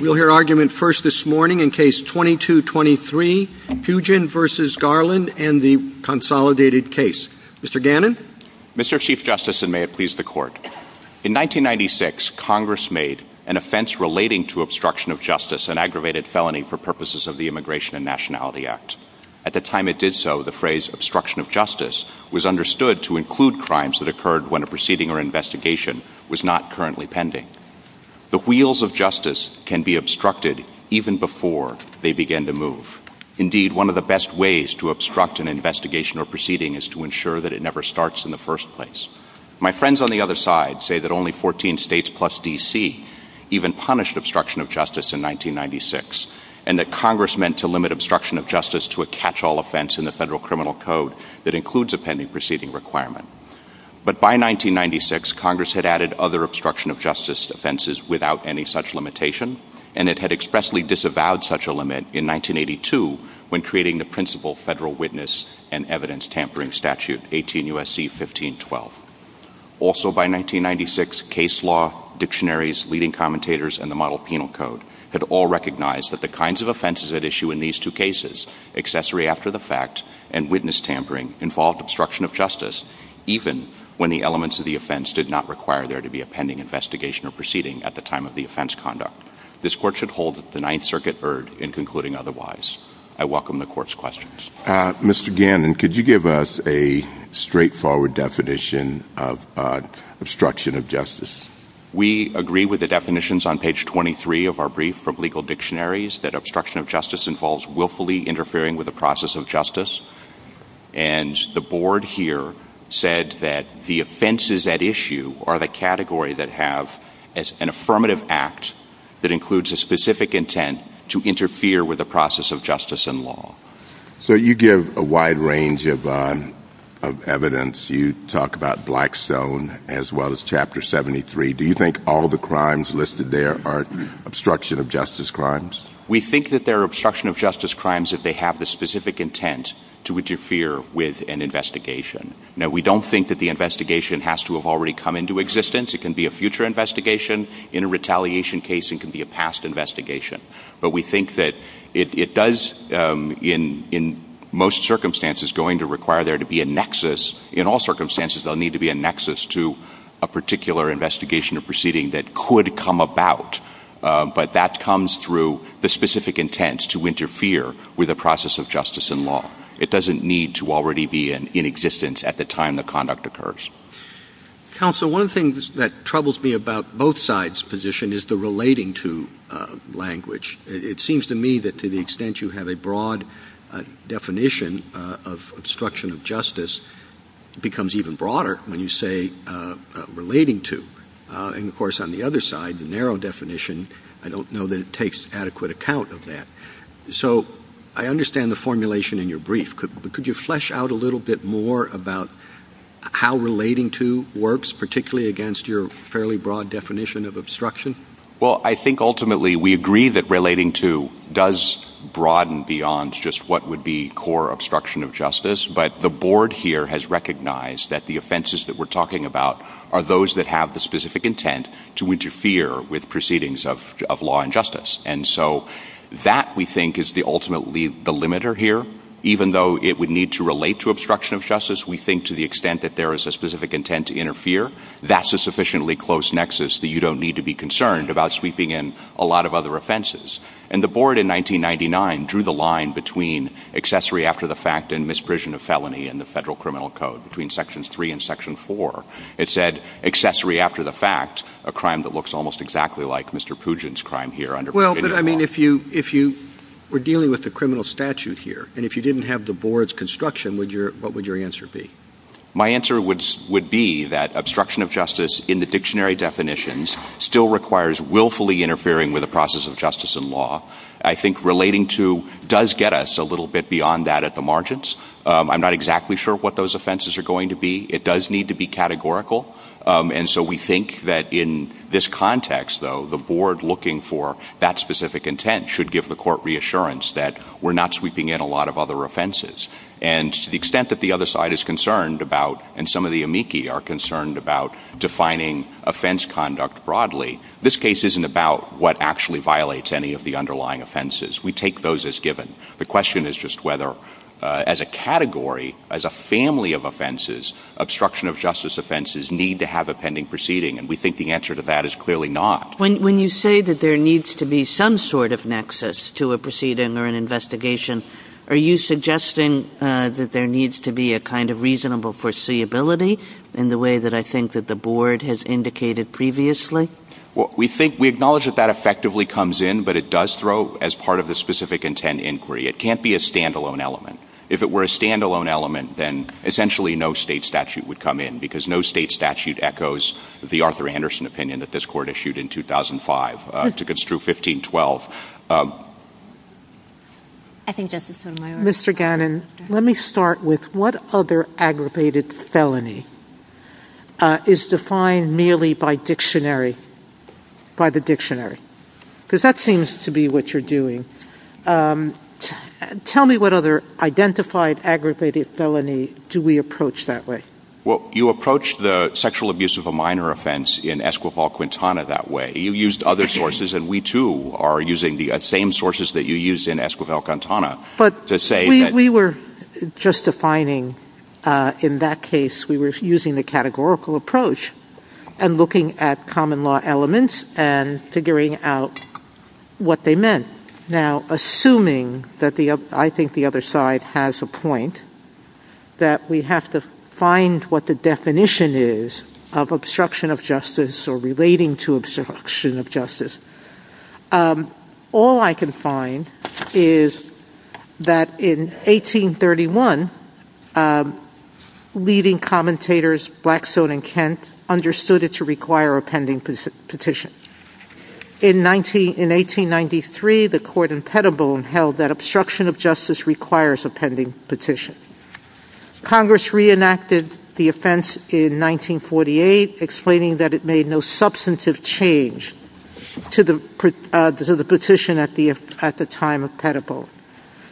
We'll hear argument first this morning in case 2223, Pugin v. Garland and the consolidated case. Mr. Gannon? Mr. Chief Justice, and may it please the Court, in 1996, Congress made an offense relating to obstruction of justice, an aggravated felony for purposes of the Immigration and Nationality Act. At the time it did so, the phrase obstruction of justice was understood to include crimes that occurred when a proceeding or investigation was not currently pending. The wheels of justice can be obstructed even before they begin to move. Indeed, one of the best ways to obstruct an investigation or proceeding is to ensure that it never starts in the first place. My friends on the other side say that only 14 states plus D.C. even punished obstruction of justice in 1996, and that Congress meant to limit obstruction of justice to a catch-all offense in the Federal Criminal Code that includes a pending proceeding requirement. But by 1996, Congress had added other obstruction of justice offenses without any such limitation, and it had expressly disavowed such a limit in 1982 when creating the principal federal witness and evidence tampering statute, 18 U.S.C. 1512. Also by 1996, case law, dictionaries, leading commentators, and the model penal code had all recognized that the kinds of offenses at issue in these two cases, accessory after the fact and witness tampering, involved obstruction of justice even when the elements of the offense did not require there to be a pending investigation or proceeding at the time of the offense conduct. This Court should hold the Ninth Circuit heard in concluding otherwise. I welcome the Court's questions. Mr. Gannon, could you give us a straightforward definition of obstruction of justice? We agree with the definitions on page 23 of our brief from legal dictionaries that obstruction of justice involves willfully interfering with the process of justice, and the Board here said that the offenses at issue are the category that have an affirmative act that includes a specific intent to interfere with the process of justice and law. So you give a wide range of evidence. You talk about Blackstone as well as Chapter 73. Do you think all of the crimes listed there are obstruction of justice they have the specific intent to interfere with an investigation? Now, we don't think that the investigation has to have already come into existence. It can be a future investigation. In a retaliation case, it can be a past investigation. But we think that it does, in most circumstances, going to require there to be a nexus. In all circumstances, there'll need to be a nexus to a particular investigation or proceeding that could come about, but that comes through the specific intent to interfere with the process of justice and law. It doesn't need to already be in existence at the time the conduct occurs. Counsel, one thing that troubles me about both sides' position is the relating to language. It seems to me that to the extent you have a broad definition of obstruction of justice, it becomes even broader when you say relating to. And of course, it takes adequate account of that. So I understand the formulation in your brief. Could you flesh out a little bit more about how relating to works, particularly against your fairly broad definition of obstruction? Well, I think ultimately we agree that relating to does broaden beyond just what would be core obstruction of justice. But the board here has recognized that the offenses that we're talking about are those that have the specific intent to interfere with proceedings of law and justice. And so that we think is ultimately the limiter here. Even though it would need to relate to obstruction of justice, we think to the extent that there is a specific intent to interfere, that's a sufficiently close nexus that you don't need to be concerned about sweeping in a lot of other offenses. And the board in 1999 drew the line between accessory after the fact and misprision of felony in the federal criminal code, between sections three and section four. It said accessory after the fact, a crime that looks almost exactly like Mr. Pugin's crime here. Well, but I mean, if you were dealing with the criminal statute here, and if you didn't have the board's construction, what would your answer be? My answer would be that obstruction of justice in the dictionary definitions still requires willfully interfering with the process of justice and law. I think relating to does get us a little bit beyond that at the margins. I'm not exactly sure what those offenses are going to be. It does need to be categorical. And so we think that in this context, though, the board looking for that specific intent should give the court reassurance that we're not sweeping in a lot of other offenses. And to the extent that the other side is concerned about, and some of the amici are concerned about defining offense conduct broadly, this case isn't about what actually violates any of the underlying offenses. We take those as given. The question is just whether as a category, as a family of offenses, obstruction of justice offenses need to have a pending proceeding. And we think the answer to that is clearly not. When you say that there needs to be some sort of nexus to a proceeding or an investigation, are you suggesting that there needs to be a kind of reasonable foreseeability in the way that I think that the board has indicated previously? Well, we think we acknowledge that that effectively comes in, but it does throw as part of the specific intent inquiry. It can't be a standalone element. If it were a standalone element, then essentially no state statute would come in because no state statute echoes the Arthur Anderson opinion that this court issued in 2005. I think it's true 1512. Mr. Gannon, let me start with what other aggravated felony is defined merely by the state statute. Tell me what other identified aggravated felony do we approach that way? Well, you approach the sexual abuse of a minor offense in Esquivel-Quintana that way. You used other sources, and we too are using the same sources that you used in Esquivel-Quintana. We were just defining in that case, we were using the categorical approach and looking at common law elements and figuring out what they meant. Now, assuming that I think the other side has a point that we have to find what the definition is of obstruction of justice or relating to obstruction of justice. All I can find is that in 1831, a leading commentator, Blackstone and Kent, understood it to require a pending petition. In 1893, the court in Pettibone held that obstruction of justice requires a pending petition. Congress reenacted the offense in 1948, explaining that it made no substantive change to the petition at the time of Pettibone.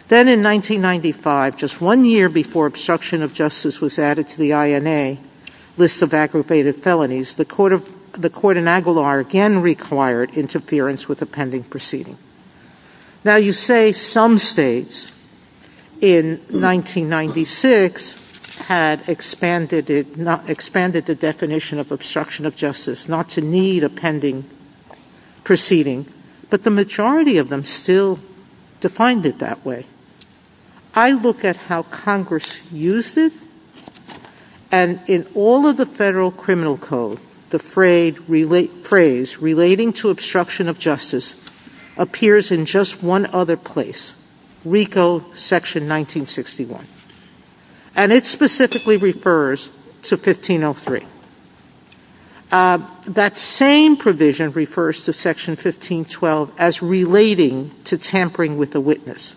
Then in 1995, just one year before obstruction of justice was added to the INA list of aggravated felonies, the court in Aguilar again required interference with the pending proceeding. Now, you say some states in 1996 had expanded the definition of obstruction of justice, not to need a pending proceeding, but the majority of them still defined it that way. I look at how Congress used it and in all of the federal criminal code, the phrase relating to obstruction of justice appears in just one other place, RICO section 1961. And it specifically refers to 1503. That same provision refers to section 1512 as relating to tampering with the witness.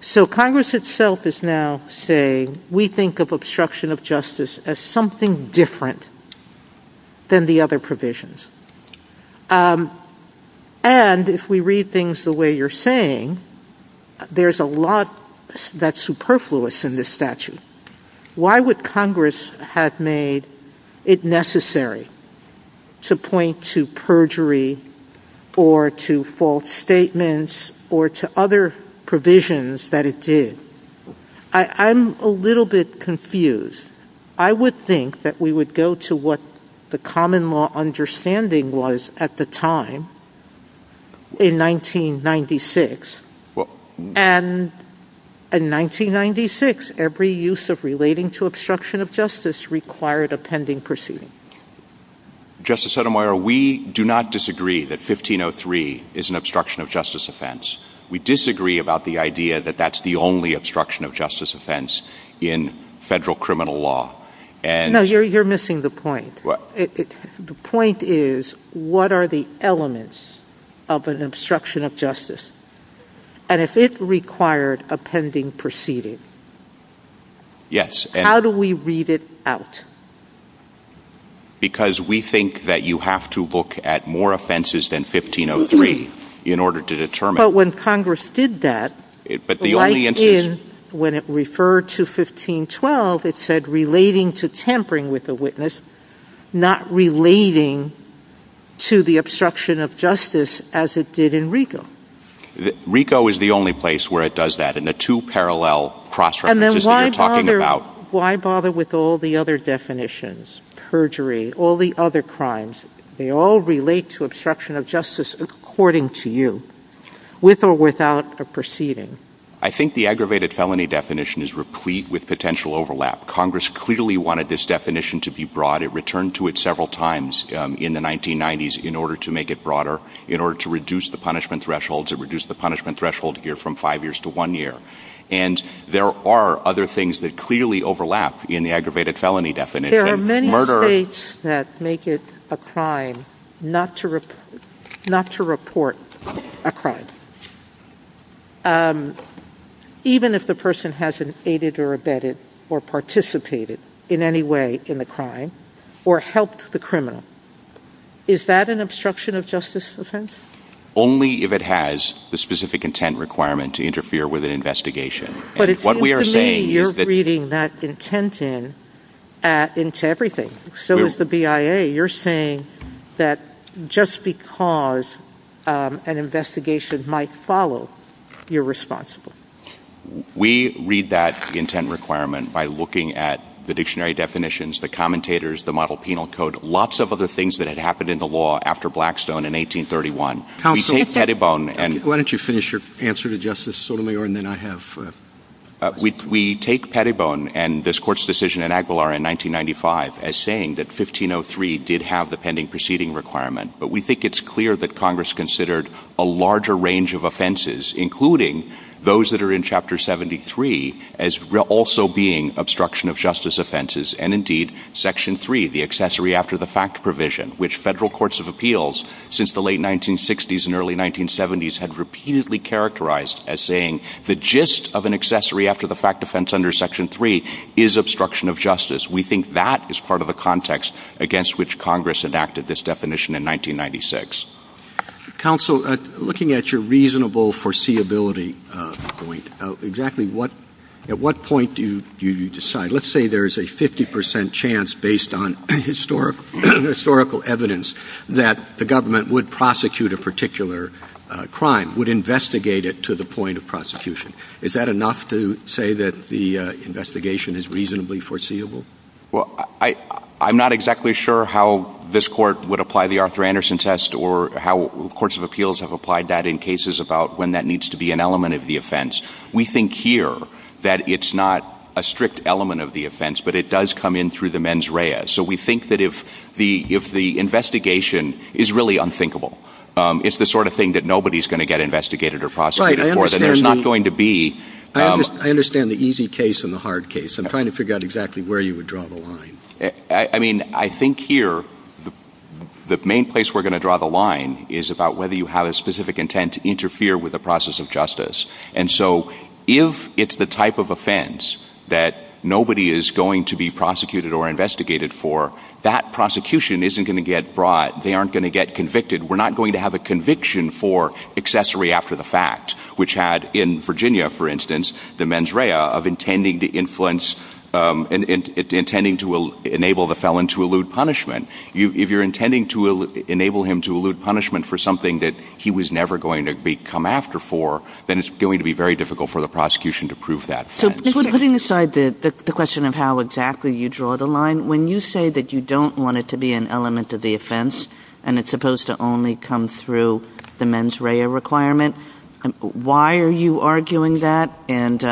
So Congress itself is now saying we think of obstruction of justice as something different than the other provisions. And if we read things the way you're saying, there's a lot that's superfluous in this statute. Why would Congress have made it necessary to point to perjury or to false statements or to other provisions that it did? I'm a little bit confused. I would think that we would go to what the common law understanding was at the time in 1996. And in 1996, every use of relating to obstruction of justice required a pending proceeding. Justice Sotomayor, we do not disagree that 1503 is an obstruction of justice offense. We disagree about the idea that that's the only obstruction of justice offense in federal criminal law. No, you're missing the point. The point is, what are the elements of an obstruction of justice? And if it required a pending proceeding, how do we read it out? Because we think that you have to look at more offenses than 1503 in order to determine. But when Congress did that, when it referred to 1512, it said relating to tampering with the witness, not relating to the obstruction of justice as it did in RICO. RICO is the only place where it does that in the two parallel cross-references that you're talking about. Why bother with all the other definitions? Perjury, all the other crimes, they all relate to obstruction of justice according to you, with or without a proceeding. I think the aggravated felony definition is replete with potential overlap. Congress clearly wanted this definition to be broad. It returned to it several times in the 1990s in order to make it broader, in order to reduce the punishment thresholds. It reduced the punishment threshold here from five years to one year. And there are other things that clearly overlap in the aggravated felony definition. There are many states that make it a crime not to report a crime, even if the person hasn't aided or abetted or participated in any way in the crime or helped the criminal. Is that an obstruction of justice offense? Only if it has the specific intent requirement to interfere with an investigation. But it seems to me you're reading that intent in into everything. So is the BIA. You're saying that just because an investigation might follow, you're responsible. We read that intent requirement by looking at the dictionary definitions, the commentators, the model penal code, lots of other things that had happened in the law after Blackstone in 1831. Counsel, why don't you finish your answer to Justice Sotomayor and then I have. We take Pettibone and this court's decision in Aguilar in 1995 as saying that 1503 did have the pending proceeding requirement. But we think it's clear that Congress considered a larger range of offenses, including those that are in Chapter 73 as also being obstruction of justice offenses. And indeed, Section 3, the accessory after the fact provision, which federal courts of appeals since the late 1960s and early 1970s had repeatedly characterized as saying the gist of an accessory after the fact defense under Section 3 is obstruction of justice. We think that is part of the context against which Congress enacted this definition in 1996. Counsel, looking at your reasonable foreseeability point, exactly at what point do you decide? Let's say there's a 50 percent chance based on historical evidence that the government would a particular crime, would investigate it to the point of prosecution. Is that enough to say that the investigation is reasonably foreseeable? Well, I'm not exactly sure how this court would apply the Arthur Anderson test or how courts of appeals have applied that in cases about when that needs to be an element of the offense. We think here that it's not a strict element of the offense, but it does come in through the mens rea. So we think that if the investigation is really unthinkable, it's the sort of thing that nobody's going to get investigated or prosecuted for that there's not going to be. I understand the easy case and the hard case. I'm trying to figure out exactly where you would draw the line. I mean, I think here the main place we're going to draw the line is about whether you have a specific intent to interfere with the process of justice. And so if it's the type of offense that nobody is going to be prosecuted or investigated for, that prosecution isn't going to get brought, they aren't going to get convicted. We're not going to have a conviction for accessory after the fact, which had in Virginia, for instance, the mens rea of intending to influence and intending to enable the felon to elude punishment. If you're intending to enable him to elude punishment for something that he was never going to come after for, then it's going to be very difficult for the prosecution to prove that. So putting aside the question of how exactly you draw the line, when you say that you don't want it to be an element of the offense, and it's supposed to only come through the mens rea requirement, why are you arguing that? And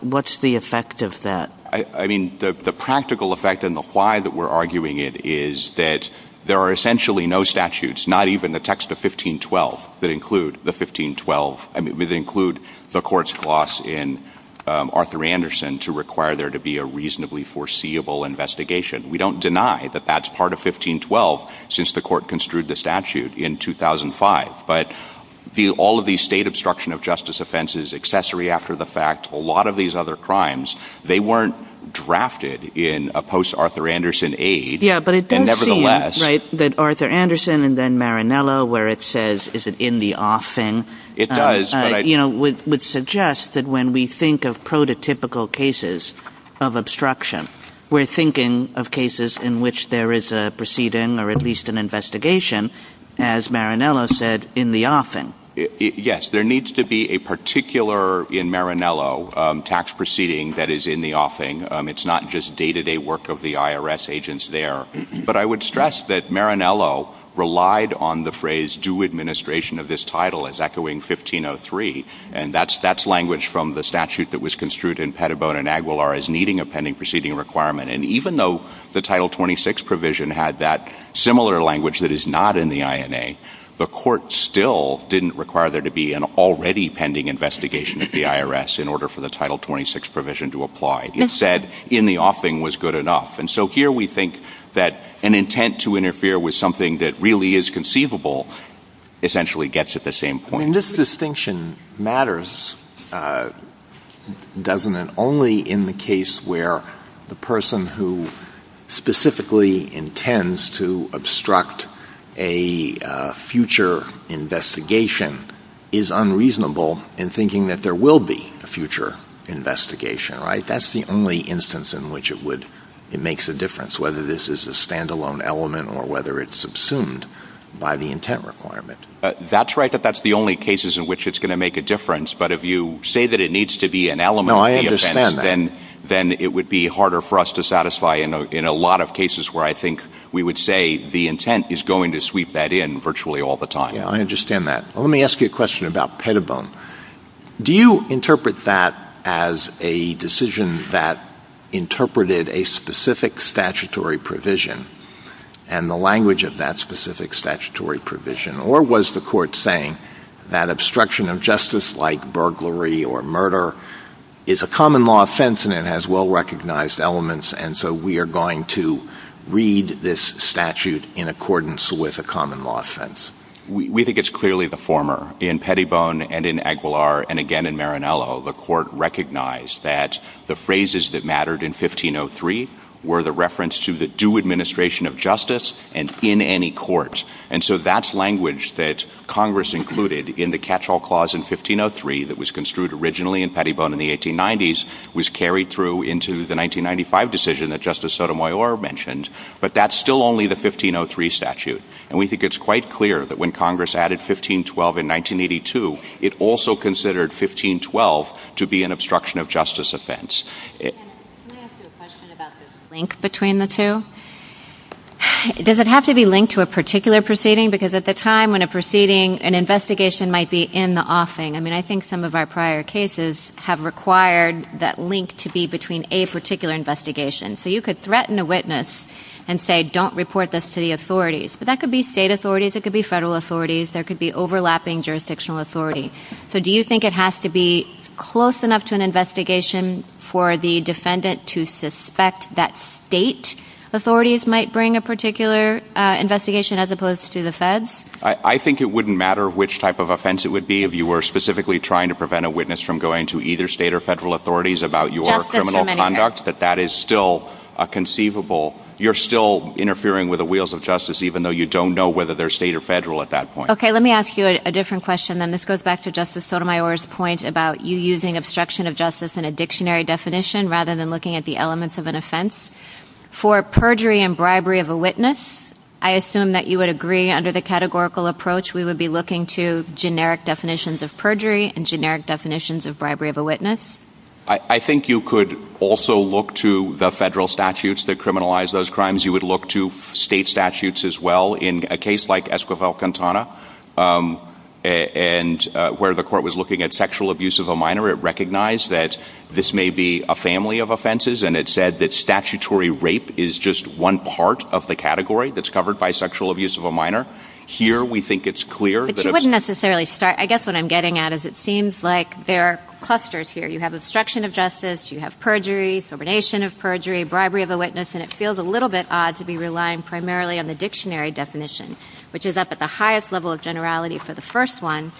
what's the effect of that? I mean, the practical effect and the why that we're arguing it is that there are essentially no statutes, not even the Arthur Anderson to require there to be a reasonably foreseeable investigation. We don't deny that that's part of 1512, since the court construed the statute in 2005. But all of these state obstruction of justice offenses, accessory after the fact, a lot of these other crimes, they weren't drafted in a post-Arthur Anderson age. Yeah, but it does seem that Arthur Anderson and then Marinello, where it says, is it in the off thing? It does. You know, would suggest that when we think of prototypical cases of obstruction, we're thinking of cases in which there is a proceeding, or at least an investigation, as Marinello said, in the offing. Yes, there needs to be a particular in Marinello tax proceeding that is in the offing. It's not just day to day work of the IRS agents there. But I would stress that Marinello relied on the phrase do administration of this title as echoing 1503. And that's that's language from the statute that was construed in Patubo and Aguilar as needing a pending proceeding requirement. And even though the title 26 provision had that similar language that is not in the INA, the court still didn't require there to be an already pending investigation of the IRS in order for the title 26 provision to apply. It said in the offing was good enough. And so here we think that an intent to interfere with something that really is conceivable, essentially gets at the same point. This distinction matters. Doesn't it only in the case where the person who specifically intends to obstruct a future investigation is unreasonable in thinking that there will be a future investigation, right? That's the only instance in which it would, it makes a difference whether this is a standalone element or whether it's subsumed by the intent requirement. That's right, that that's the only cases in which it's going to make a difference. But if you say that it needs to be an element, then it would be harder for us to satisfy in a lot of cases where I think we would say the intent is going to sweep that in virtually all the time. I understand that. Let me ask you a question about Patubo. Do you interpret that as a decision that interpreted a specific statutory provision and the language of that specific statutory provision? Or was the court saying that obstruction of justice like burglary or murder is a common law offense and it has well-recognized elements and so we are going to read this statute in accordance with a common law offense? We think it's clearly the former. In Pettibone and in Aguilar and again in Marinello, the court recognized that the phrases that mattered in 1503 were the reference to the administration of justice and in any court. And so that's language that Congress included in the catch-all clause in 1503 that was construed originally in Pettibone in the 1890s was carried through into the 1995 decision that Justice Sotomayor mentioned, but that's still only the 1503 statute. And we think it's quite clear that when Congress added 1512 in 1982, it also considered 1512 to be an obstruction of justice offense. Let me ask you a question about the link between the two. Does it have to be linked to a particular proceeding? Because at the time when a proceeding, an investigation might be in the offing. I mean, I think some of our prior cases have required that link to be between a particular investigation. So you could threaten a witness and say don't report this to the authorities. But that could be state authorities, it could be federal authorities, there could be overlapping jurisdictional authority. So do you think it has to be close enough to an investigation for the defendant to suspect that state authorities might bring a particular investigation as opposed to the feds? I think it wouldn't matter which type of offense it would be if you were specifically trying to prevent a witness from going to either state or federal authorities about your criminal conduct, that that is still conceivable. You're still interfering with the wheels of justice, even though you don't know whether they're state or federal at that point. Okay, let me ask you a different question. And this goes back to Justice Sotomayor's point about you using obstruction of justice in a dictionary definition rather than looking at the elements of an offense. For perjury and bribery of a witness, I assume that you would agree under the categorical approach we would be looking to generic definitions of perjury and generic definitions of bribery of a witness? I think you could also look to the federal statutes that criminalize those crimes. You would look to state statutes as well in a case like Esquivel and where the court was looking at sexual abuse of a minor. It recognized that this may be a family of offenses and it said that statutory rape is just one part of the category that's covered by sexual abuse of a minor. Here we think it's clear that it wouldn't necessarily start. I guess what I'm getting at is it seems like there are clusters here. You have obstruction of justice, you have perjury, subordination of perjury, bribery of a witness, and it feels a little bit odd to be for the first one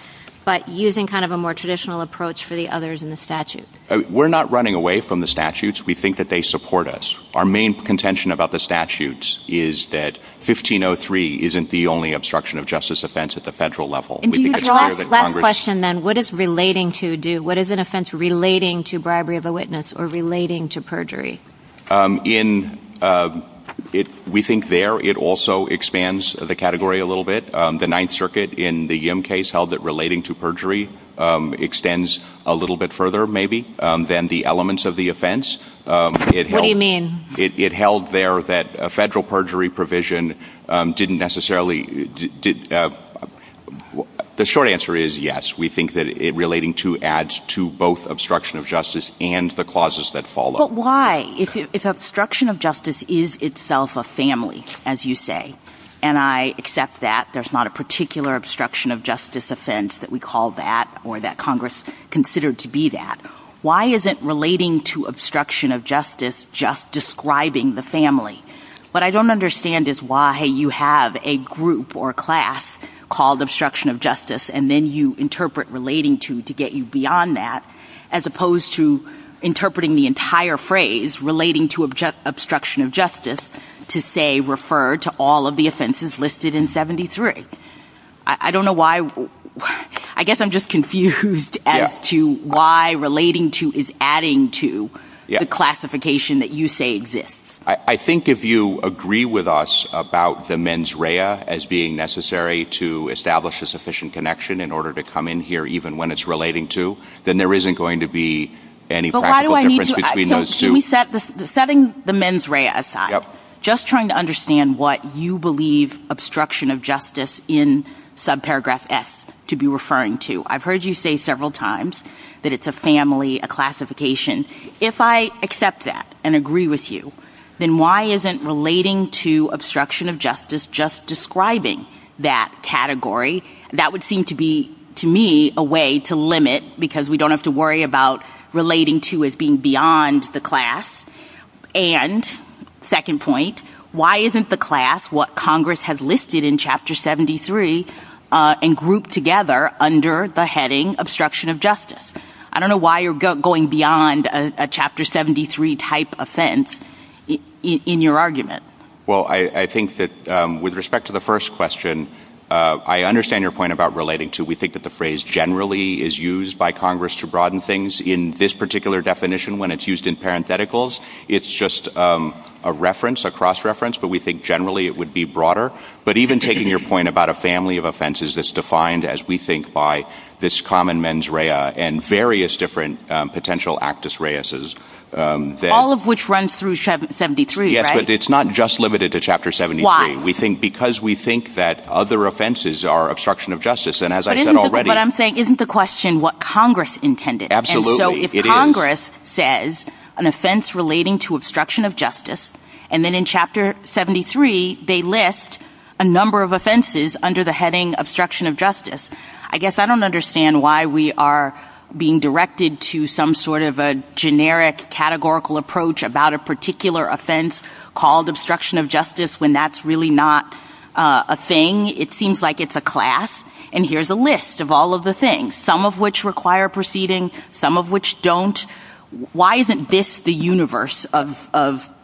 but using kind of a more traditional approach for the others in the statute. We're not running away from the statutes. We think that they support us. Our main contention about the statutes is that 1503 isn't the only obstruction of justice offense at the federal level. What is relating to do? What is an offense relating to bribery of a witness or relating to perjury? We think there it also expands the category a little bit. The Ninth Circuit in the Yim case held that relating to perjury extends a little bit further maybe than the elements of the offense. What do you mean? It held there that a federal perjury provision didn't necessarily... The short answer is yes. We think that relating to adds to both obstruction of justice and the clauses that follow. But why? If obstruction of justice is itself a family, as you say, and I accept that there's not a particular obstruction of justice offense that we call that or that Congress considered to be that, why isn't relating to obstruction of justice just describing the family? What I don't understand is why you have a group or class called obstruction of justice and then you interpret relating to to get you beyond that as opposed to interpreting the entire phrase relating to obstruction of justice to say refer to all of the offenses listed in 73. I don't know why. I guess I'm just confused as to why relating to is adding to the classification that you say exists. I think if you agree with us about the mens rea as being necessary to establish a sufficient connection in order to come in here even when it's relating to, then there isn't going to be any... Setting the mens rea aside, just trying to understand what you believe obstruction of justice in subparagraph S to be referring to. I've heard you say several times that it's a family, a classification. If I accept that and agree with you, then why isn't relating to obstruction of justice just describing that category? That would seem to be to me a way to limit because we don't have to worry about relating to as being beyond the class. And second point, why isn't the class what Congress has listed in chapter 73 and grouped together under the heading obstruction of justice? I don't know why you're going beyond a chapter 73 type offense in your argument. Well, I think that with respect to the first question, I understand your point about relating to. We think that the phrase generally is used by Congress to broaden things. In this particular definition, when it's used in parentheticals, it's just a reference, a cross-reference, but we think generally it would be broader. But even taking your point about a family of offenses that's defined as we think by this common mens rea and various different potential actus reuses. All of which runs through 73, right? Yes, but it's not just limited to chapter 73. Why? We think because we think that other offenses are obstruction of justice. And as I said already. But I'm saying, isn't the question what Congress intended? Absolutely. If Congress says an offense relating to obstruction of justice, and then in chapter 73, they list a number of offenses under the heading obstruction of justice. I guess I don't understand why we are being directed to some sort of a generic categorical approach about a particular offense called obstruction of justice when that's really not a thing. It seems like it's a class. And here's a list of all of the things, some of which require proceeding, some of which don't. Why isn't this the universe of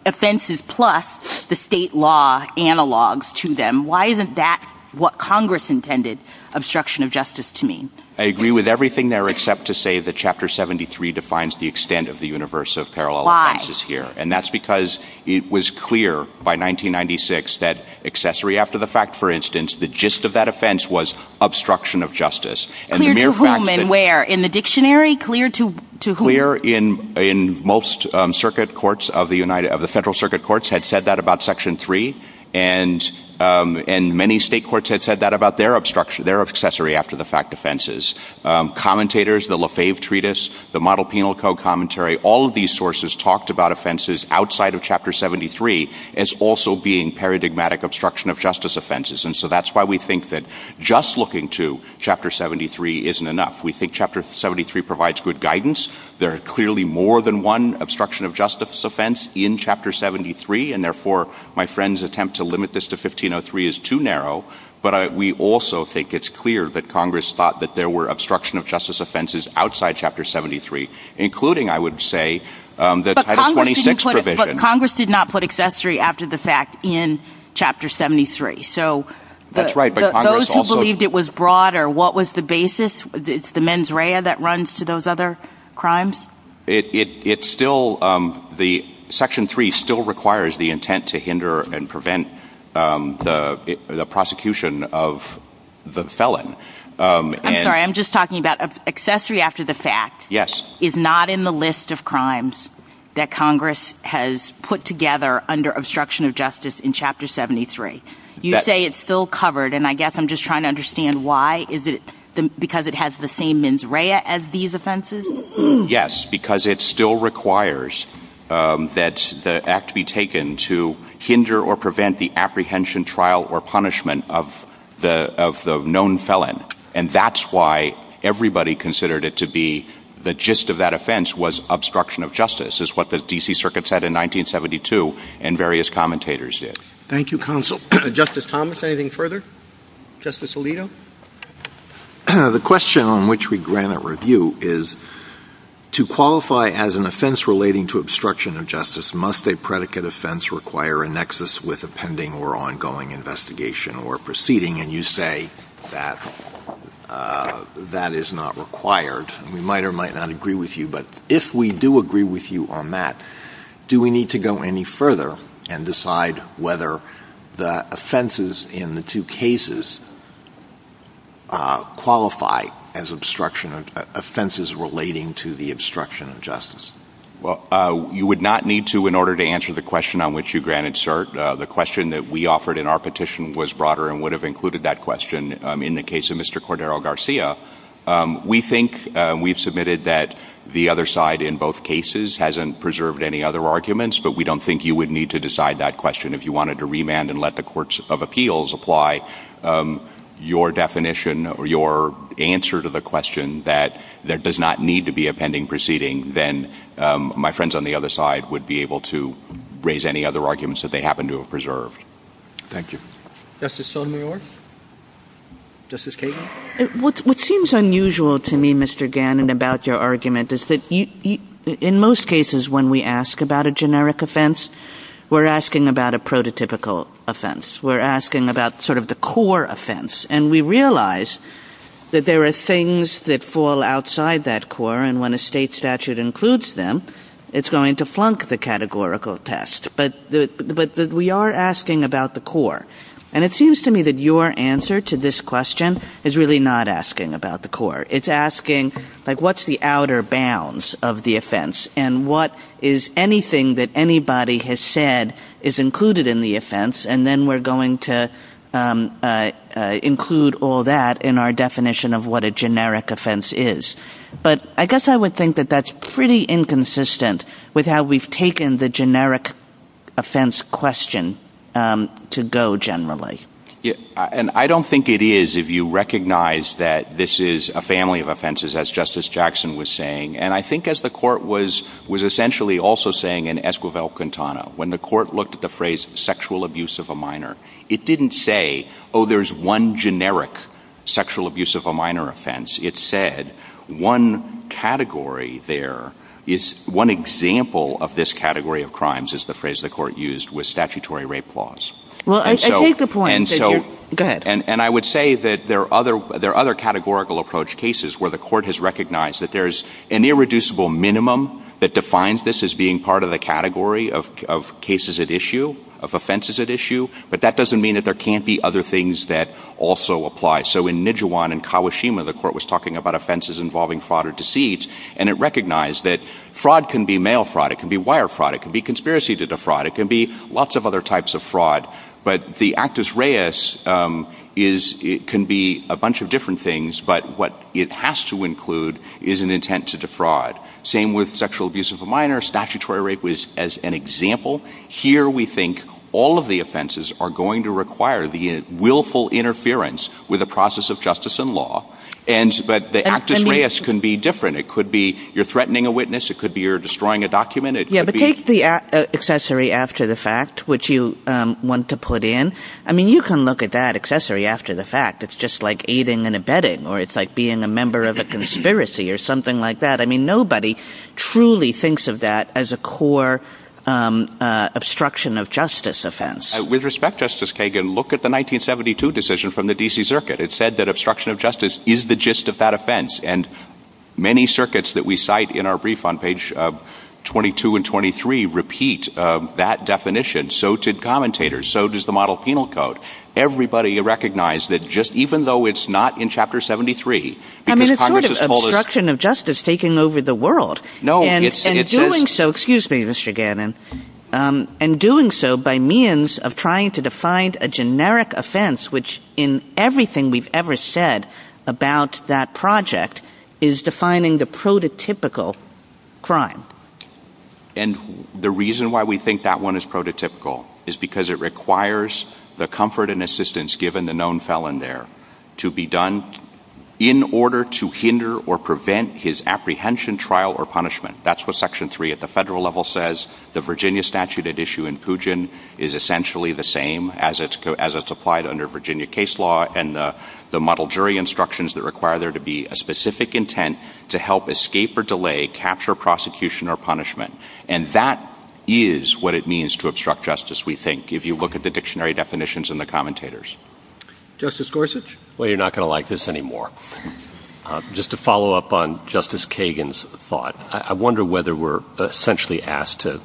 offenses plus the state law analogs to them? Why isn't that what Congress intended obstruction of justice to mean? I agree with everything there except to say that chapter 73 defines the extent of the universe of parallel lines is here. And that's because it was clear by 1996, that accessory after the fact, for instance, the gist of that offense was obstruction of justice. And then where in the dictionary clear to to clear in in most circuit courts of the United of the Federal Circuit courts had said that about section three. And, and many state courts had said that about their obstruction, their accessory after the fact offenses commentators, the Lafave treatise, the model penal code commentary, all of these sources talked about offenses outside of chapter 73 as also being paradigmatic obstruction of justice offenses. And so that's why we think that just looking to chapter 73 isn't enough. We think chapter 73 provides good guidance. There are clearly more than one obstruction of justice offense in chapter 73. And therefore my friend's attempt to limit this to Congress thought that there were obstruction of justice offenses outside chapter 73, including, I would say, that Congress did not put accessory after the fact in chapter 73. So those who believed it was broader, what was the basis? It's the mens rea that runs to those other crimes. It's still the section three still requires the intent to hinder and prevent the prosecution of the felon. I'm sorry, I'm just talking about accessory after the fact. Yes. Is not in the list of crimes that Congress has put together under obstruction of justice in chapter 73. You say it's still covered. And I guess I'm just trying to understand why is it because it has the same mens rea as these offenses? Yes, because it still requires that the act be taken to hinder or prevent the apprehension trial or punishment of the known felon. And that's why everybody considered it to be the gist of that offense was obstruction of justice is what the D.C. Circuit said in 1972 and various commentators did. Thank you, counsel. Justice Thomas, anything further? Justice Alito? The question on which we grant a review is to qualify as an offense require a nexus with a pending or ongoing investigation or proceeding. And you say that that is not required. We might or might not agree with you. But if we do agree with you on that, do we need to go any further and decide whether the offenses in the two cases qualify as obstruction of offenses relating to the obstruction of justice? Well, you would not need to in order to answer the question on which you granted cert. The question that we offered in our petition was broader and would have included that question in the case of Mr. Cordero Garcia. We think we've submitted that the other side in both cases hasn't preserved any other arguments. But we don't think you would need to decide that question if you wanted to remand and let the courts of appeals apply your definition or your answer to the my friends on the other side would be able to raise any other arguments that they happen to have preserved. Thank you. Justice Sotomayor? Justice Kagan? What seems unusual to me, Mr. Gannon, about your argument is that in most cases, when we ask about a generic offense, we're asking about a prototypical offense. We're asking about sort of the core offense. And we realize that there are things that fall outside that core. And when a state statute includes them, it's going to flunk the categorical test. But we are asking about the core. And it seems to me that your answer to this question is really not asking about the core. It's asking, like, what's the outer bounds of the offense? And what is anything that anybody has said is included in the offense? And then we're going to include all that in our definition of what a generic offense is. But I guess I would think that that's pretty inconsistent with how we've taken the generic offense question to go generally. And I don't think it is if you recognize that this is a family of offenses, as Justice Jackson was saying. And I think as the court was was also saying in Esquivel-Quintana, when the court looked at the phrase sexual abuse of a minor, it didn't say, oh, there's one generic sexual abuse of a minor offense. It said one category there is one example of this category of crimes is the phrase the court used with statutory rape laws. And I would say that there are other categorical approach cases where the court has recognized that there's an irreducible minimum that defines this as being part of the category of cases at issue, of offenses at issue. But that doesn't mean that there can't be other things that also apply. So in Nijewan and Kawashima, the court was talking about offenses involving fraud or deceit. And it recognized that fraud can be mail fraud, it can be wire fraud, it can be conspiracy to defraud, it can be lots of other types of fraud. But the actus reus is it can be a bunch of different things. But what it has to include is an intent to defraud. Same with sexual abuse of a minor statutory rape was as an example. Here, we think all of the offenses are going to require the willful interference with the process of justice and law. And but the actus reus can be different. It could be you're threatening a witness, it could be you're destroying a document. Yeah, but take the accessory after the fact, which you want to put in. I mean, you can look at that accessory after the fact, it's just like aiding and abetting, or it's like being a member of a conspiracy or something like that. I mean, nobody truly thinks of that as a core obstruction of justice offense. With respect, Justice Kagan, look at the 1972 decision from the DC Circuit. It said that obstruction of justice is the gist of that offense. And many circuits that we cite in our brief on 22 and 23 repeat that definition. So did commentators. So does the model penal code. Everybody recognized that just even though it's not in Chapter 73. I mean, it's sort of obstruction of justice taking over the world. No, it's doing so. Excuse me, Mr. Gannon. And doing so by means of trying to define a generic offense, which in everything we've ever said about that project, is defining the prototypical crime. And the reason why we think that one is prototypical is because it requires the comfort and assistance given the known felon there to be done in order to hinder or prevent his apprehension trial or punishment. That's what Section 3 at the federal level says. The Virginia statute at issue in Pugin is essentially the same as it's applied under Virginia case law and the model jury instructions that require there to be a specific intent to help escape or delay capture prosecution or punishment. And that is what it means to obstruct justice, we think, if you look at the dictionary definitions and the commentators. Justice Gorsuch? Well, you're not going to like this anymore. Just to follow up on Justice Kagan's thought, I wonder whether we're essentially asked to,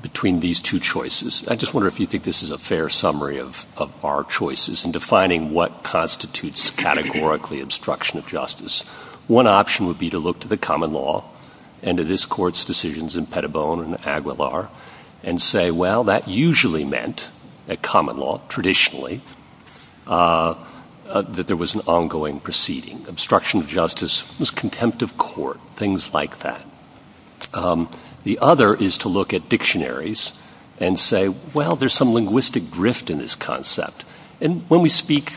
between these two choices, I just wonder if you think this is a fair summary of our choices in defining what constitutes categorically obstruction of justice. One option would be to look to the common law and to this court's decisions in Pettibone and Aguilar and say, well, that usually meant, at common law, traditionally, that there was an ongoing proceeding. Obstruction of justice was contempt of court, things like that. The other is to look at dictionaries and say, well, there's some linguistic drift in this concept. And when we speak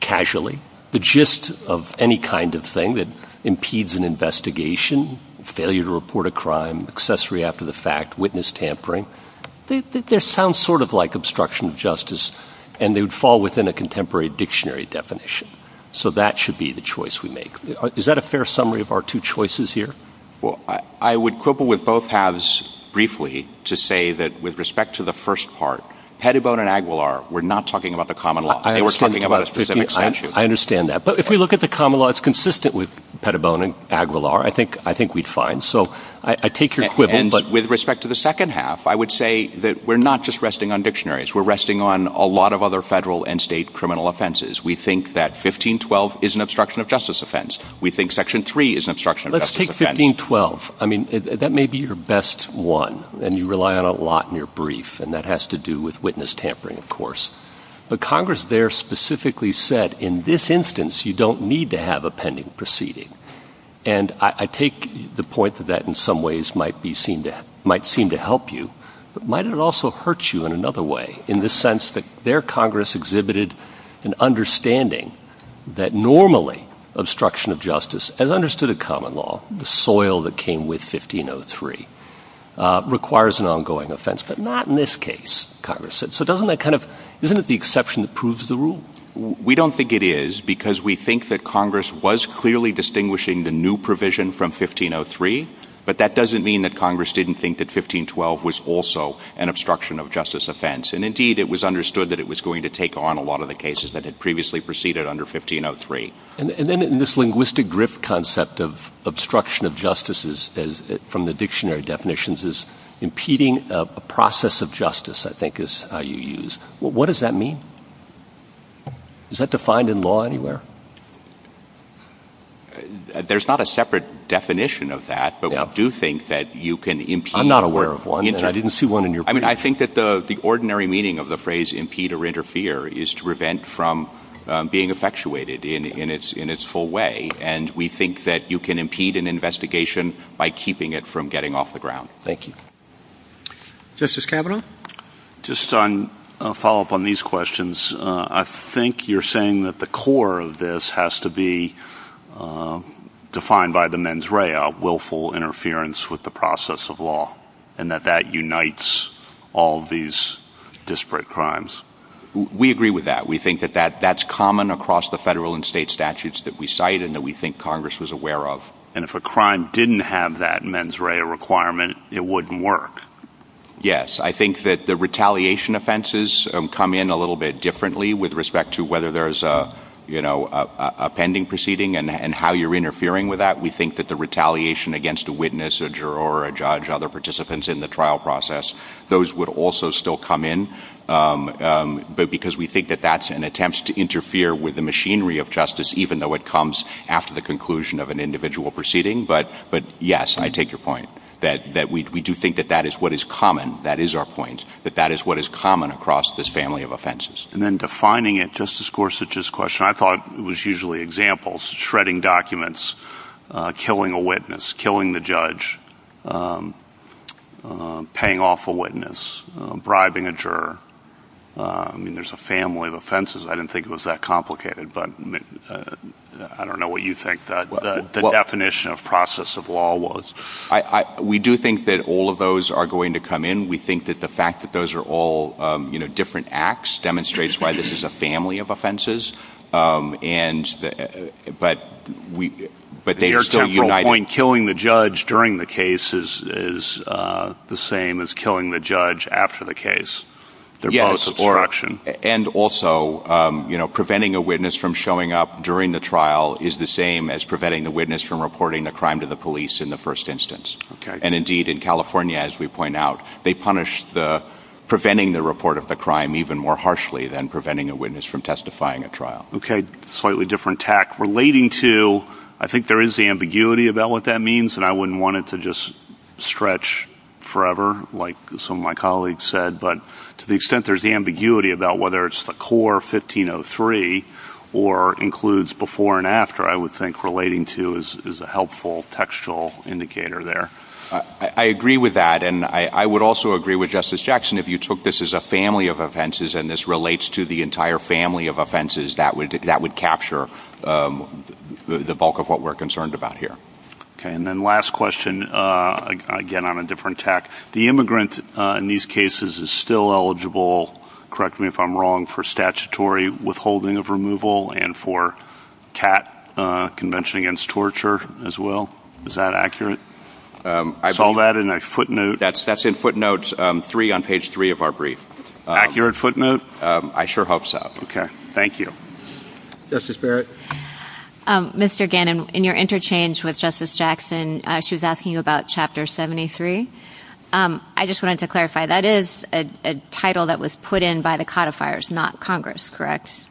casually, the gist of any kind of thing that impedes an investigation, failure to report a crime, accessory after the fact, witness tampering, this sounds sort of like obstruction of justice, and they would fall within a contemporary dictionary definition. So that should be the choice we make. Is that a fair summary of our two choices here? Well, I would quibble with both halves briefly to say that with respect to the first part, Pettibone and Aguilar, we're not talking about the common law. They were talking about a specific statute. I understand that. But if we look at the common law, it's consistent with Pettibone and Aguilar. I think we'd find. So I take your quibble. And with respect to the second half, I would say that we're not just resting on dictionaries. We're resting on a lot of other federal and state criminal offenses. We think that 1512 is an obstruction of justice offense. We think Section 3 is an obstruction of justice offense. Let's take 1512. I mean, that may be your best one. And you rely on a lot in your brief. And that has to do with witness tampering, of course. But Congress there specifically said in this instance, you don't need to have a pending proceeding. And I take the point that that in some ways might be seen to might seem to help you. But might it also hurt you in another way, in the sense that their Congress exhibited an understanding that normally obstruction of justice as understood a common law, the soil that came with 1503 requires an ongoing offense, but not in this case, Congress said. So doesn't that kind of, isn't it the exception that proves the rule? We don't think it is because we think that Congress was clearly distinguishing the new provision from 1503. But that doesn't mean that Congress didn't think that 1512 was also an obstruction of justice offense. And indeed, it was understood that it was going to take on a lot of the cases that had previously proceeded under 1503. And then in this linguistic drift concept of obstruction of justices, as from the dictionary definitions is impeding a process of justice, I think is how you use what does that mean? Is that defined in law anywhere? There's not a separate definition of that. But I do think that you can I'm not aware of one. I didn't see one in your I mean, I think that the the ordinary meaning of the phrase impede or interfere is to prevent from being effectuated in its in its full way. And we think that you can impede an investigation by keeping it from getting off the ground. Thank you. Justice Kavanaugh. Just on a follow up on these questions. I think you're saying that the core of this has to be defined by the mens rea, willful interference with the process of law, and that that unites all these disparate crimes. We agree with that. We think that that that's common across the federal and state statutes that we cite and that we think Congress was aware of. And if a crime didn't have that mens rea requirement, it wouldn't work. Yes, I think that the retaliation offenses come in a little bit differently with respect to whether there's a, you know, a pending proceeding and how you're interfering with that. We think that the retaliation against a witness, a juror or a judge, other participants in the trial process, those would also still come in. But because we think that that's an attempt to interfere with the machinery of justice, even though it comes after the conclusion of an individual proceeding. But but yes, I take your point that that we do think that that is what is common. That is our point, that that is what is common across this family of offenses. And then defining it, Justice Gorsuch's question, I thought it was usually examples, shredding documents, killing a witness, killing the judge, paying off a witness, bribing a juror. I mean, there's a family of offenses. I didn't think it was that complicated, but I don't know what you think that the definition of process of law was. We do think that all of those are going to come in. We think that the fact that those are all, you know, different acts demonstrates why this is a family of offenses. And but we but they are still uniting killing the judge during the case is the same as killing the judge after the case. And also, you know, preventing a witness from showing up during the trial is the same as preventing the witness from reporting the crime to the police in the first instance. And indeed, in California, as we point out, they punish the preventing the report of the crime even more harshly than preventing a witness from testifying at trial. Okay. Slightly different tack. Relating to, I think there is ambiguity about what that means, and I wouldn't want it to just stretch forever, like some of my colleagues said, but to the extent there's the ambiguity about whether it's the core 1503 or includes before and after, I would think relating to is a helpful textual indicator there. I agree with that. And I would also agree with Justice Jackson, if you took this as a family of offenses, and this relates to the entire family of offenses that would that would capture the bulk of what we're concerned about here. Okay. And then last question, again, on a different tack, the immigrant in these cases is still eligible. Correct me if I'm wrong for statutory withholding of removal and for convention against torture as well. Is that accurate? I saw that in a footnote. That's in footnotes three on page three of our brief. Accurate footnote. I sure hope so. Okay. Thank you. Justice Barrett. Mr. Gannon, in your interchange with Justice Jackson, she's asking you about Chapter 73. I just wanted to clarify that is a title that was put in by the codifiers, not Congress, correct?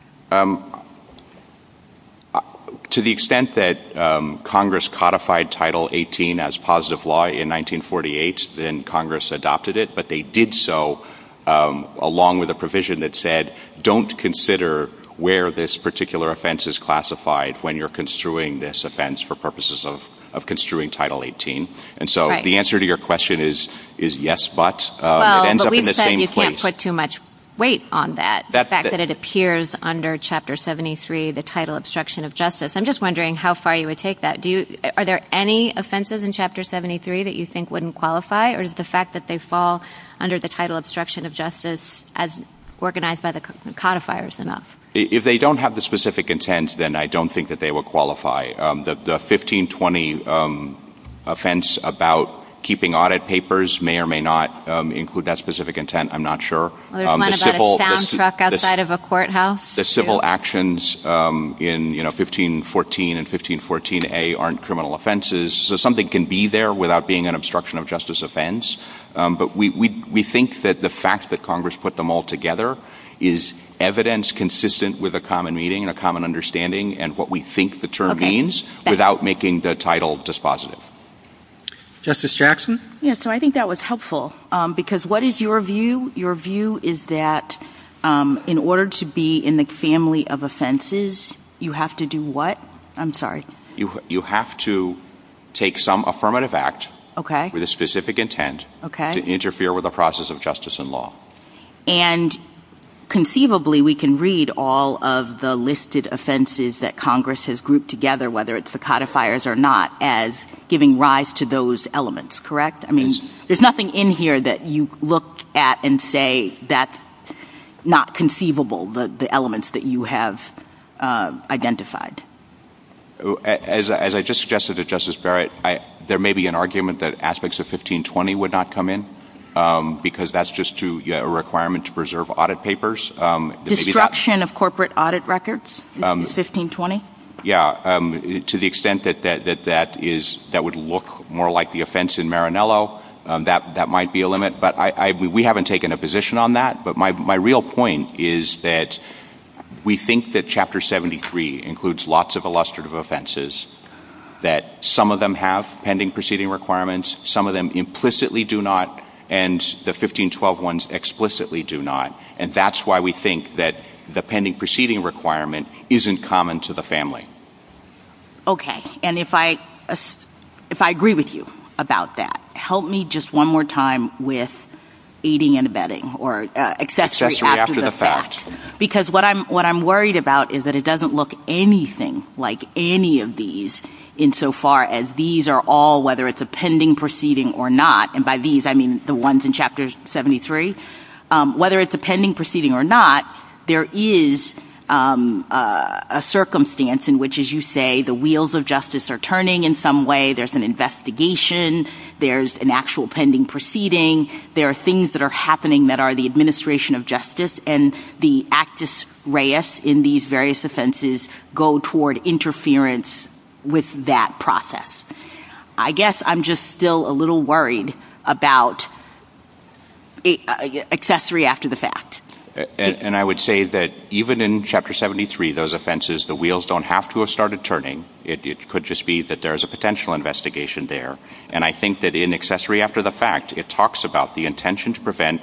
To the extent that Congress codified Title 18 as positive law in 1948, then Congress adopted it, but they did so along with a provision that said don't consider where this particular offense is classified when you're construing this offense for purposes of construing Title 18. And so the answer to your question is yes, but it ends up in the same place. You can't put too much weight on that, the fact that it appears under Chapter 73, the title obstruction of justice. I'm just wondering how far you would take that. Are there any offenses in Chapter 73 that you think wouldn't qualify? Or is the fact that they fall under the title obstruction of justice as organized by the codifiers enough? If they don't have the specific intent, then I don't think that they would qualify. The 1520 offense about keeping audit papers may or may not include that specific intent, I'm not sure. The civil actions in 1514 and 1514A aren't criminal offenses, so something can be there without being an obstruction of justice offense. But we think that the fact that Congress put them all together is evidence consistent with a common meaning and a common understanding and what we think the term means without making the title dispositive. Justice Jackson? Yeah, so I think that was helpful because what is your view? Your view is that in order to be in the family of offenses, you have to do what? I'm sorry. You have to take some affirmative act with a specific intent to interfere with the process of justice and law. And conceivably, we can read all of the listed offenses that Congress has grouped together, whether it's the codifiers or not, as giving rise to those elements, correct? I mean, there's nothing in here that you look at and say that's not conceivable, the elements that you have identified. As I just suggested to Justice Barrett, there may be an argument that aspects of 1520 would not come in because that's just a requirement to preserve audit papers. Destruction of corporate audit records in 1520? Yeah, to the extent that that would look more like the offense in Marinello, that might be a limit. But we haven't taken a position on that. But my real point is that we think that Chapter 73 includes lots of illustrative offenses, that some of them have explicitly do not. And that's why we think that the pending proceeding requirement isn't common to the family. Okay. And if I agree with you about that, help me just one more time with aiding and abetting or accessory after the fact. Because what I'm worried about is that it doesn't look anything like any of these insofar as these are all, whether it's a pending proceeding or not, by these I mean the ones in Chapter 73, whether it's a pending proceeding or not, there is a circumstance in which, as you say, the wheels of justice are turning in some way, there's an investigation, there's an actual pending proceeding, there are things that are happening that are the administration of justice, and the actus reus in these various offenses go toward interference with that process. I guess I'm just still a little worried about accessory after the fact. And I would say that even in Chapter 73, those offenses, the wheels don't have to have started turning. It could just be that there's a potential investigation there. And I think that in accessory after the fact, it talks about the intention to that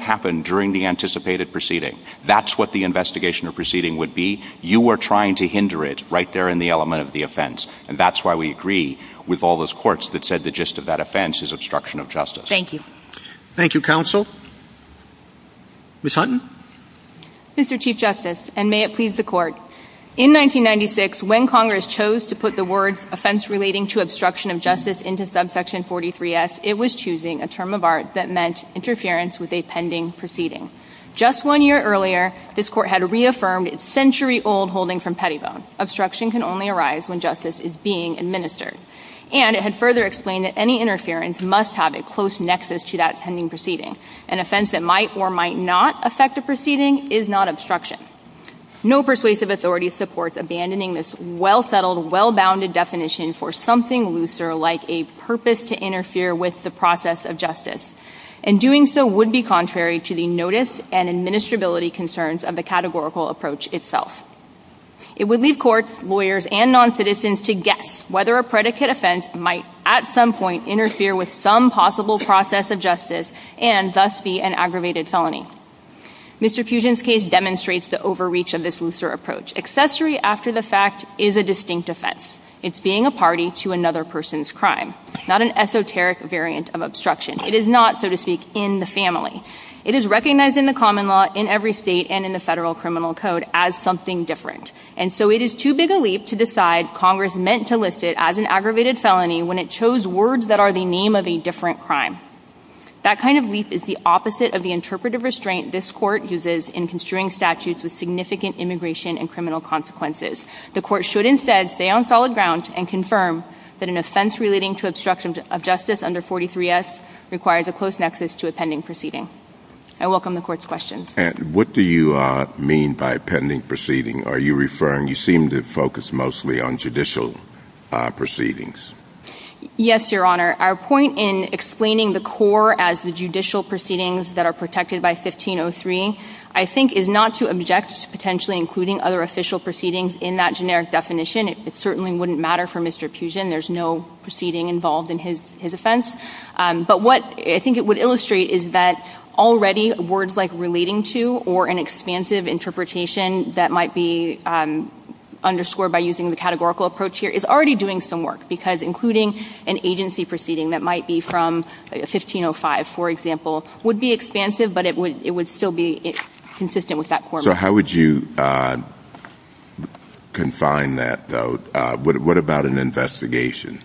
happened during the anticipated proceeding. That's what the investigation of proceeding would be. You are trying to hinder it right there in the element of the offense. And that's why we agree with all those courts that said the gist of that offense is obstruction of justice. Thank you. Thank you, counsel. Ms. Hutton? Mr. Chief Justice, and may it please the Court, in 1996, when Congress chose to put the word offense relating to obstruction of justice into subsection 43S, it was choosing a term of art that meant interference with a pending proceeding. Just one year earlier, this Court had reaffirmed its century-old holding from Pettigrew. Obstruction can only arise when justice is being administered. And it had further explained that any interference must have a close nexus to that pending proceeding. An offense that might or might not affect a proceeding is not obstruction. No persuasive authority supports abandoning this well-settled, well-bounded definition for something looser like a purpose to interfere with the process of justice. And doing so would be contrary to the notice and administrability concerns of the categorical approach itself. It would leave courts, lawyers, and noncitizens to guess whether a predicate offense might at some point interfere with some possible process of justice and thus be an aggravated felony. Mr. Fusion's case demonstrates the overreach of this looser approach. Accessory after the fact is a distinct offense. It's being a party to another person's crime, not an esoteric variant of obstruction. It is not, so to speak, in the family. It is recognized in the common law, in every state, and in the federal criminal code as something different. And so it is too big a leap to decide Congress meant to list it as an aggravated felony when it chose words that are the name of a different crime. That kind of leap is the opposite of the interpretive restraint this Court uses in construing statutes with significant immigration and criminal consequences. The Court should instead stay on solid ground and confirm that an offense relating to obstruction of justice under 43S requires a close nexus to a pending proceeding. I welcome the Court's questions. And what do you mean by pending proceeding? Are you referring, you seem to focus mostly on judicial proceedings. Yes, Your Honor. Our point in explaining the core as the judicial proceedings that are protected by 1503, I think, is not to object to potentially including other official proceedings in that generic definition. It certainly wouldn't matter for Mr. Pugin. There's no proceeding involved in his offense. But what I think it would illustrate is that already words like relating to or an expansive interpretation that might be underscored by using the categorical approach here is already doing some work because including an agency proceeding that might be from 1505, for example, would be consistent with that core. So how would you confine that, though? What about an investigation?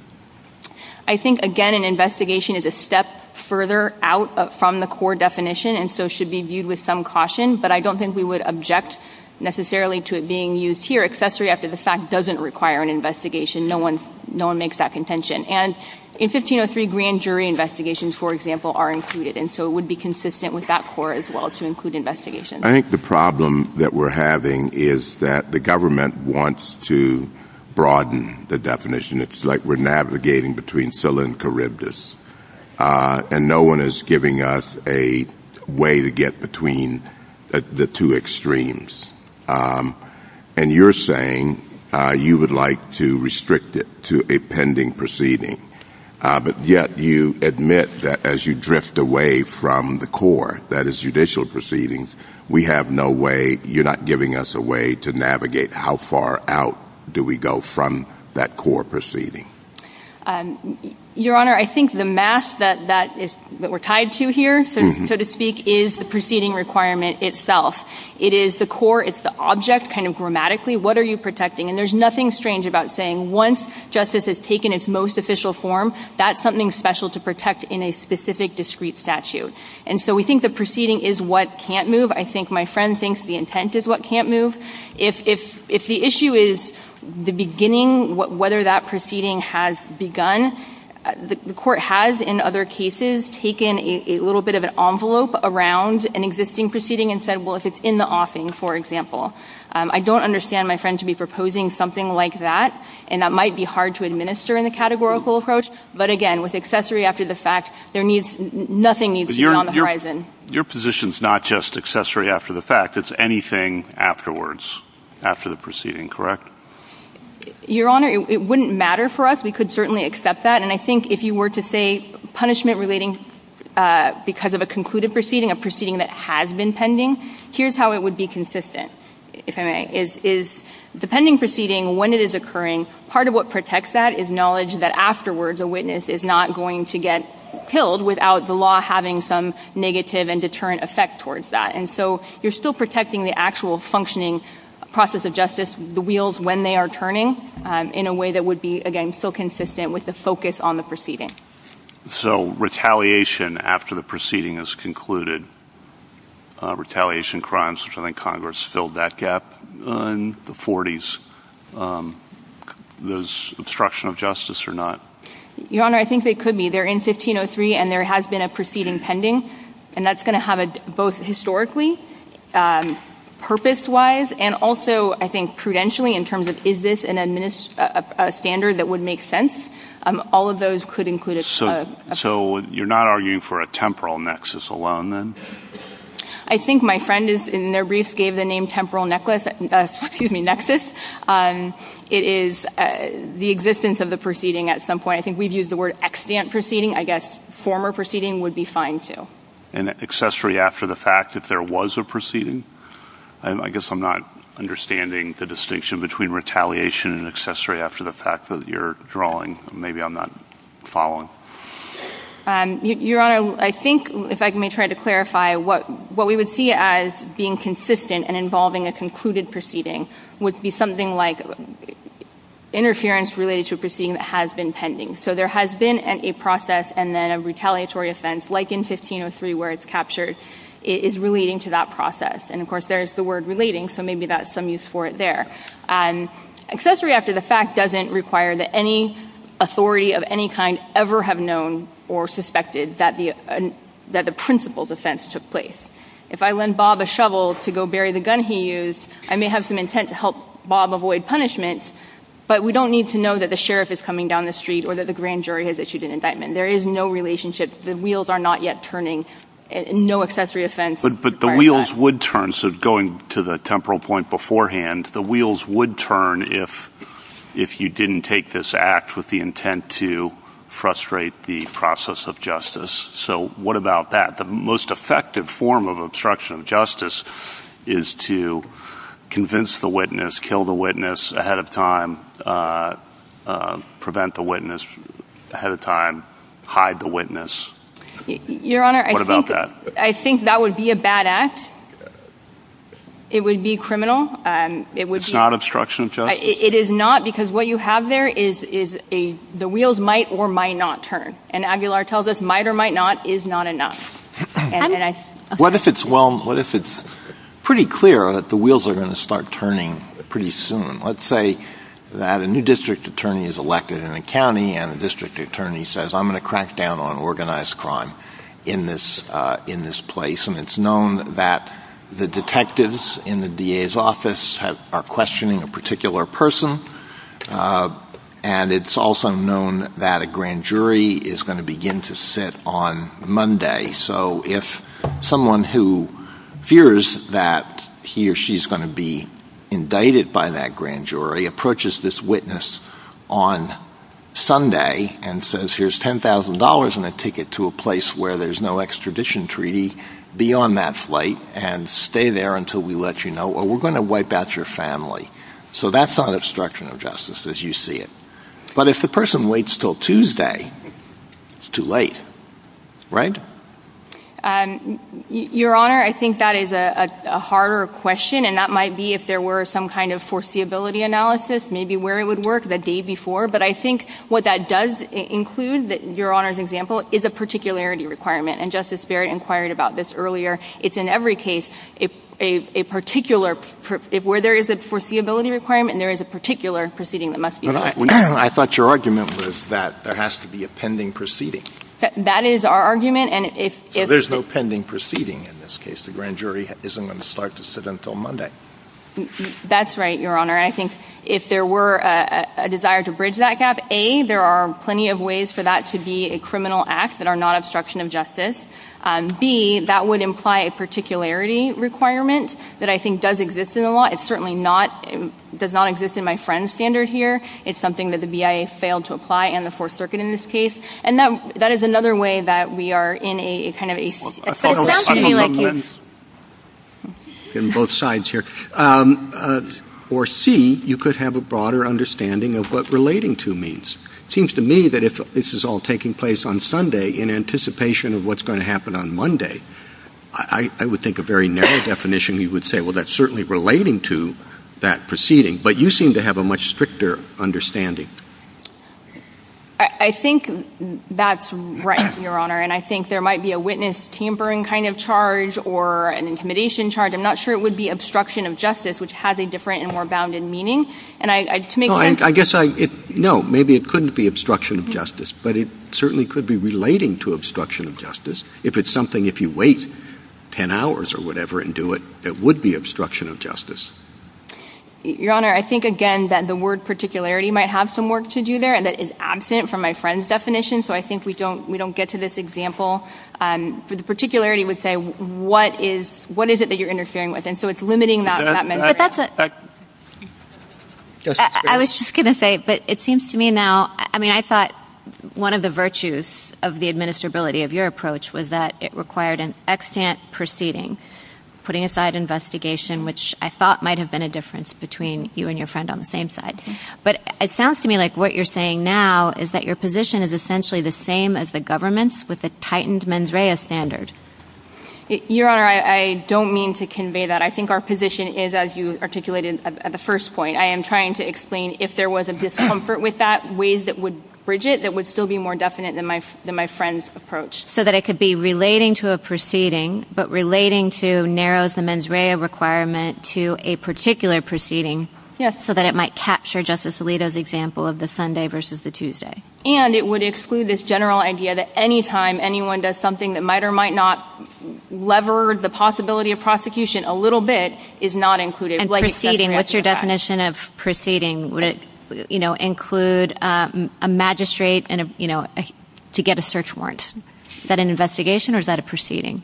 I think, again, an investigation is a step further out from the core definition and so should be viewed with some caution. But I don't think we would object necessarily to it being used here. Accessory after the fact doesn't require an investigation. No one makes that contention. And in 1503, grand jury investigations, for example, are included. And so it would be consistent with that core as well to include investigation. I think the problem that we're having is that the government wants to broaden the definition. It's like we're navigating between Scylla and Charybdis and no one is giving us a way to get between the two extremes. And you're saying you would like to restrict it to a pending proceeding. But yet you admit that as you proceedings, you're not giving us a way to navigate how far out do we go from that core proceeding. Your Honor, I think the math that we're tied to here, so to speak, is the proceeding requirement itself. It is the core. It's the object kind of grammatically. What are you protecting? And there's nothing strange about saying once justice has taken its most official form, that's something special to protect in a specific discrete statute. And so we think the proceeding is what can't move. I think my friend thinks the intent is what can't move. If the issue is the beginning, whether that proceeding has begun, the court has in other cases taken a little bit of an envelope around an existing proceeding and said, well, if it's in the offing, for example. I don't understand my friend to be proposing something like that. And that might be hard to administer in the categorical approach. But again, with accessory after the fact, nothing needs to be on the horizon. Your position is not just accessory after the fact. It's anything afterwards, after the proceeding, correct? Your Honor, it wouldn't matter for us. We could certainly accept that. And I think if you were to say punishment relating because of a concluded proceeding, a proceeding that has been pending, here's how it would be consistent, if I may. The pending proceeding, when it is occurring, part of what protects that is knowledge that afterwards a witness is not going to get killed without the law having some negative and deterrent effect towards that. And so you're still protecting the actual functioning process of justice, the wheels, when they are turning, in a way that would be, again, still consistent with the focus on the proceeding. So retaliation after the proceeding is concluded, retaliation crimes, which I think Congress filled that gap in the 40s, there's obstruction of justice or not? Your Honor, I think they could be. They're in 1503, and there has been a proceeding pending. And that's going to have both historically, purpose-wise, and also I think prudentially in terms of is this a standard that would make sense? All of those could include it. So you're not arguing for a temporal nexus alone, then? I think my friend in their briefs gave the name temporal nexus. It is the existence of the proceeding at some point. I think we've used the word extant proceeding. I guess former proceeding would be fine, too. And accessory after the fact, if there was a proceeding? And I guess I'm not understanding the distinction between retaliation and accessory after the fact that you're drawing. Maybe I'm not following. Your Honor, I think, if I may try to clarify, what we would see as being consistent and involving a concluded proceeding would be something like interference related to a proceeding that has been pending. So there has been a process and then a retaliatory offense, like in 1503 where it's captured, is relating to that process. And of course, there's the word relating, so maybe that's some use for it there. Accessory after the fact doesn't require that any authority of any kind ever have known or suspected that the principal's offense took place. If I lend Bob a shovel to go bury the gun he used, I may have some intent to help Bob avoid punishment, but we don't need to know that the sheriff is coming down the street or that the grand jury has issued an indictment. There is no relationship. The wheels are not yet turning. No accessory offense. But the wheels would turn, so going to the temporal point beforehand, the wheels would turn if you didn't take this act with the intent to frustrate the process of justice. So what about that? The most effective form of obstruction of justice is to convince the witness, kill the witness ahead of time, prevent the witness ahead of time, hide the witness. Your Honor, I think that would be a bad act. It would be criminal. It's not obstruction of justice? It is not because what you have there is the wheels might or might not turn. And Aguilar tells us might or might not is not enough. What if it's pretty clear that the wheels are going to start turning pretty soon? Let's say that a new district attorney is elected in the county and the district attorney says, I'm going to crack down on organized crime in this place. And it's known that the detectives in the DA's office are questioning a particular person. And it's also known that a grand jury is going to begin to sit on Monday. So if someone who fears that he or she is going to be indicted by that grand jury approaches this witness on Sunday and says, here's $10,000 and a ticket to a place where there's no extradition treaty beyond that flight and stay there until we let you know or we're going to wipe out your family. So that's not obstruction of justice as you see it. But if the person waits till Tuesday, it's too late. Right? Your Honor, I think that is a harder question. And that might be if there were some kind of foreseeability analysis, maybe where it would work the day before. But I think what that does include, Your Honor's example, is a particularity requirement. And Justice Berry inquired about this earlier. It's in every case, if where there is a foreseeability requirement, there is a particular proceeding that must be done. I thought your argument was that there has to be a pending proceeding. That is our argument. So there's no pending proceeding in this case. The grand jury isn't going to start to sit until Monday. That's right, Your Honor. I think if there were a desire to bridge that gap, A, there are plenty of ways for that to be a criminal act that are not obstruction of justice. B, that would imply a particularity requirement that I think does exist in the law. It certainly does not exist in my friend's standard here. It's something that the BIA failed to apply and the Fourth Circuit in this case. And that is another way that we are in a kind of a... That sounds to me like it. In both sides here. Or C, you could have a broader understanding of what relating to means. It seems to me that if this is all taking place on Sunday in anticipation of what's going to happen on Monday, I would think a very narrow definition, we would say, well, that's certainly relating to that proceeding. But you seem to have a much stricter understanding. I think that's right, Your Honor. And I think there might be a witness tampering kind of charge or an intimidation charge. I'm not sure it would be obstruction of justice, which has a different and more bounded meaning. And I... I guess I... No, maybe it couldn't be obstruction of justice, but it certainly could be relating to obstruction of justice. If it's something, if you wait 10 hours or whatever and do it, it would be obstruction of justice. Your Honor, I think, again, that the word particularity might have some work to do there. And that is absent from my friend's definition. So I think we don't get to this example. But the particularity would say, what is it that you're interfering with? And so it's limiting that method. But that's... I was just going to say, but it seems to me now, I mean, I thought one of the virtues of the administrability of your approach was that it required an extant proceeding, putting aside investigation, which I thought might have been a difference between you and your friend on the same side. But it sounds to me like what you're saying now is that your position is essentially the same as the government's with a tightened mens rea standard. Your Honor, I don't mean to convey that. I think our position is, as you articulated at the first point, I am trying to explain if there was a discomfort with that, ways that would bridge it, that would still be more definite than my friend's approach. So that it could be relating to a proceeding, but relating to narrow the mens rea requirement to a particular proceeding, so that it might capture Justice Alito's example of the Sunday versus the Tuesday. And it would exclude this general idea that any time anyone does something that might or might not lever the possibility of prosecution a little bit is not included. And proceeding, what's your definition of proceeding? Would it include a magistrate to get a search warrant? Is that an investigation or is that a proceeding?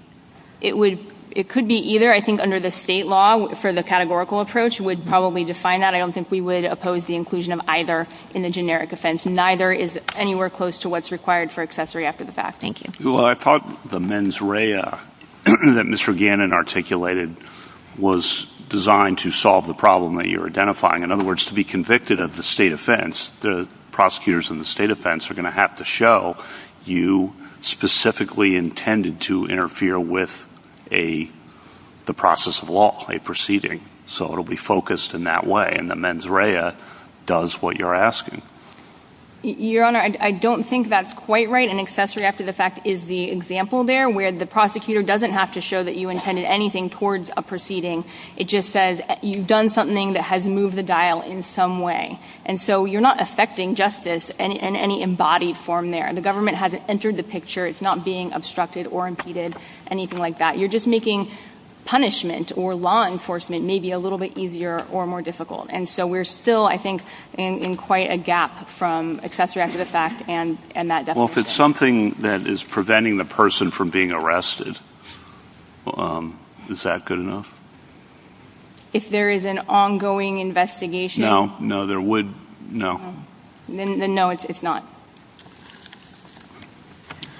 It would, it could be either. I think under the state law for the categorical approach would probably define that. I don't think we would oppose the inclusion of either in a generic offense. Neither is anywhere close to what's required for accessory after the fact. Thank you. Well, I thought the mens rea that Mr. Gannon articulated was designed to solve the problem that you're identifying. In other words, to be convicted of the state offense, the prosecutors in the state offense are going to have to show you specifically intended to interfere with the process of law, a proceeding. So it'll be focused in that way and the mens rea does what you're asking. Your Honor, I don't think that's quite right. An accessory after the fact is the example there where the prosecutor doesn't have to show that you intended anything towards a proceeding. It just says you've done something that has moved the dial in some way. And so you're not affecting justice in any embodied form there. The government hasn't entered the picture. It's not being obstructed or impeded, anything like that. You're just making punishment or law enforcement maybe a little bit easier or more difficult. And so we're still, I think, in quite a gap from accessory after the fact and that definition. Well, if it's something that is preventing the person from being arrested, is that good enough? If there is an ongoing investigation? No, no, there would, no. No, it's not.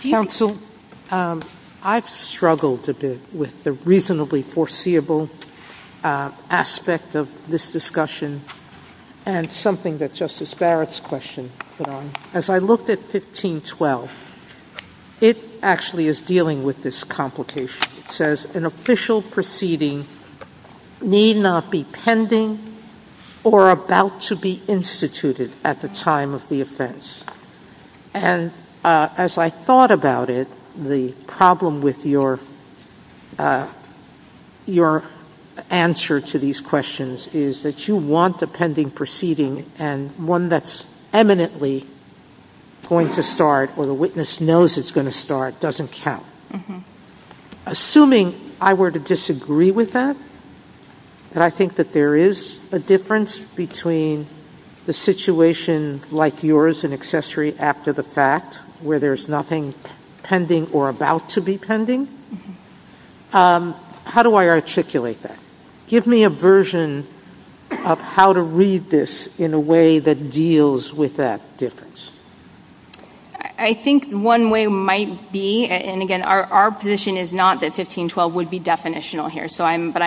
Counsel, I've struggled a bit with the reasonably foreseeable aspect of this discussion and something that Justice Barrett's question put on. As I looked at 1512, it actually is dealing with this complication. It says, an official proceeding need not be pending or about to be instituted at the time of the offense. And as I thought about it, the problem with your answer to these questions is that you want a pending proceeding and one that's eminently going to start or the witness knows it's going to start doesn't count. Mm-hmm. Assuming I were to disagree with that, that I think that there is a difference between the situation like yours in accessory after the fact where there's nothing pending or about to be pending, how do I articulate that? Give me a version of how to read this in a way that deals with that difference. I think one way might be, and again, our position is not that 1512 would be definitional here.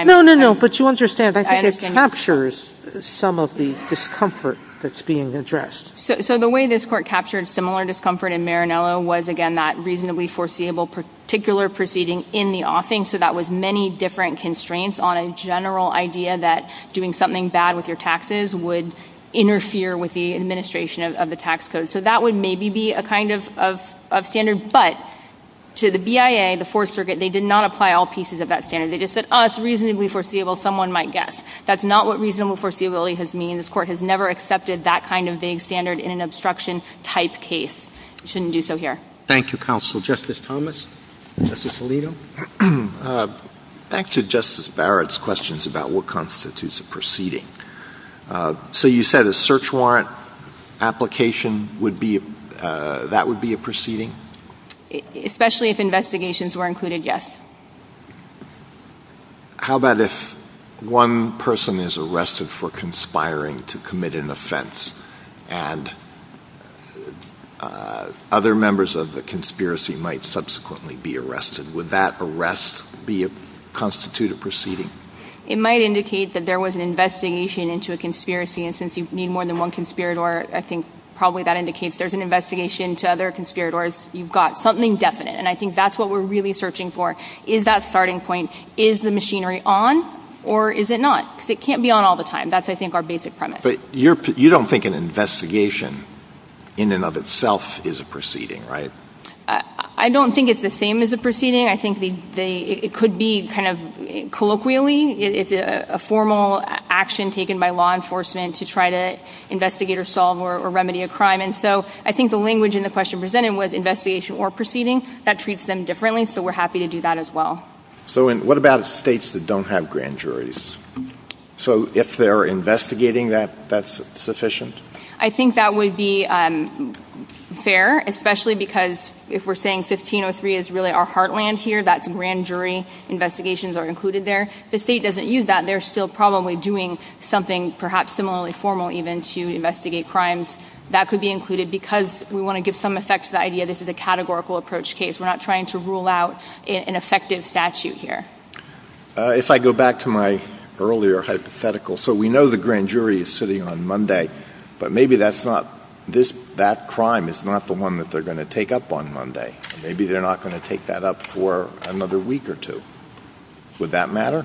No, no, no, but you understand, I think it captures some of the discomfort that's being addressed. So the way this court captured similar discomfort in Marinello was, again, that reasonably foreseeable particular proceeding in the offing. So that was many different constraints on a general idea that doing something bad with your taxes would interfere with the administration of the tax code. So that would maybe be a kind of standard, but to the BIA, the Fourth Circuit, they did not apply all pieces of that standard. They just said, oh, it's reasonably foreseeable. Someone might guess. That's not what reasonable foreseeability has meant. This court has never accepted that kind of big standard in an obstruction-type case. It shouldn't do so here. Thank you, Counsel. Justice Thomas, Justice Alito. Back to Justice Barrett's questions about what constitutes a proceeding. So you said a search warrant application, that would be a proceeding? Especially if investigations were included, yes. How about if one person is arrested for conspiring to commit an offense and other members of the conspiracy might subsequently be arrested? Would that arrest be a constituted proceeding? It might indicate that there was an investigation into a conspiracy. And since you need more than one conspirator, I think probably that indicates there's an investigation to other conspirators. You've got something definite. And I think that's what we're really searching for, is that starting point, is the machinery on or is it not? Because it can't be on all the time. That's, I think, our basic premise. But you don't think an investigation in and of itself is a proceeding, right? I don't think it's the same as a proceeding. I think it could be kind of colloquially. It is a formal action taken by law enforcement to try to investigate or solve or remedy a crime. And so I think the language in the question presented was investigation or proceeding. That treats them differently. So we're happy to do that as well. So what about states that don't have grand juries? So if they're investigating, that's sufficient? I think that would be fair, especially because if we're saying 1503 is really our heartland here, that's a grand jury. Investigations are included there. If the state doesn't use that, they're still probably doing something perhaps similarly formal even to investigate crimes. That could be included because we want to give some effect to the idea this is a categorical approach case. We're not trying to rule out an effective statute here. If I go back to my earlier hypothetical. So we know the grand jury is sitting on Monday. But maybe that crime is not the one that they're going to take up on Monday. Maybe they're not going to take that up for another week or two. Would that matter?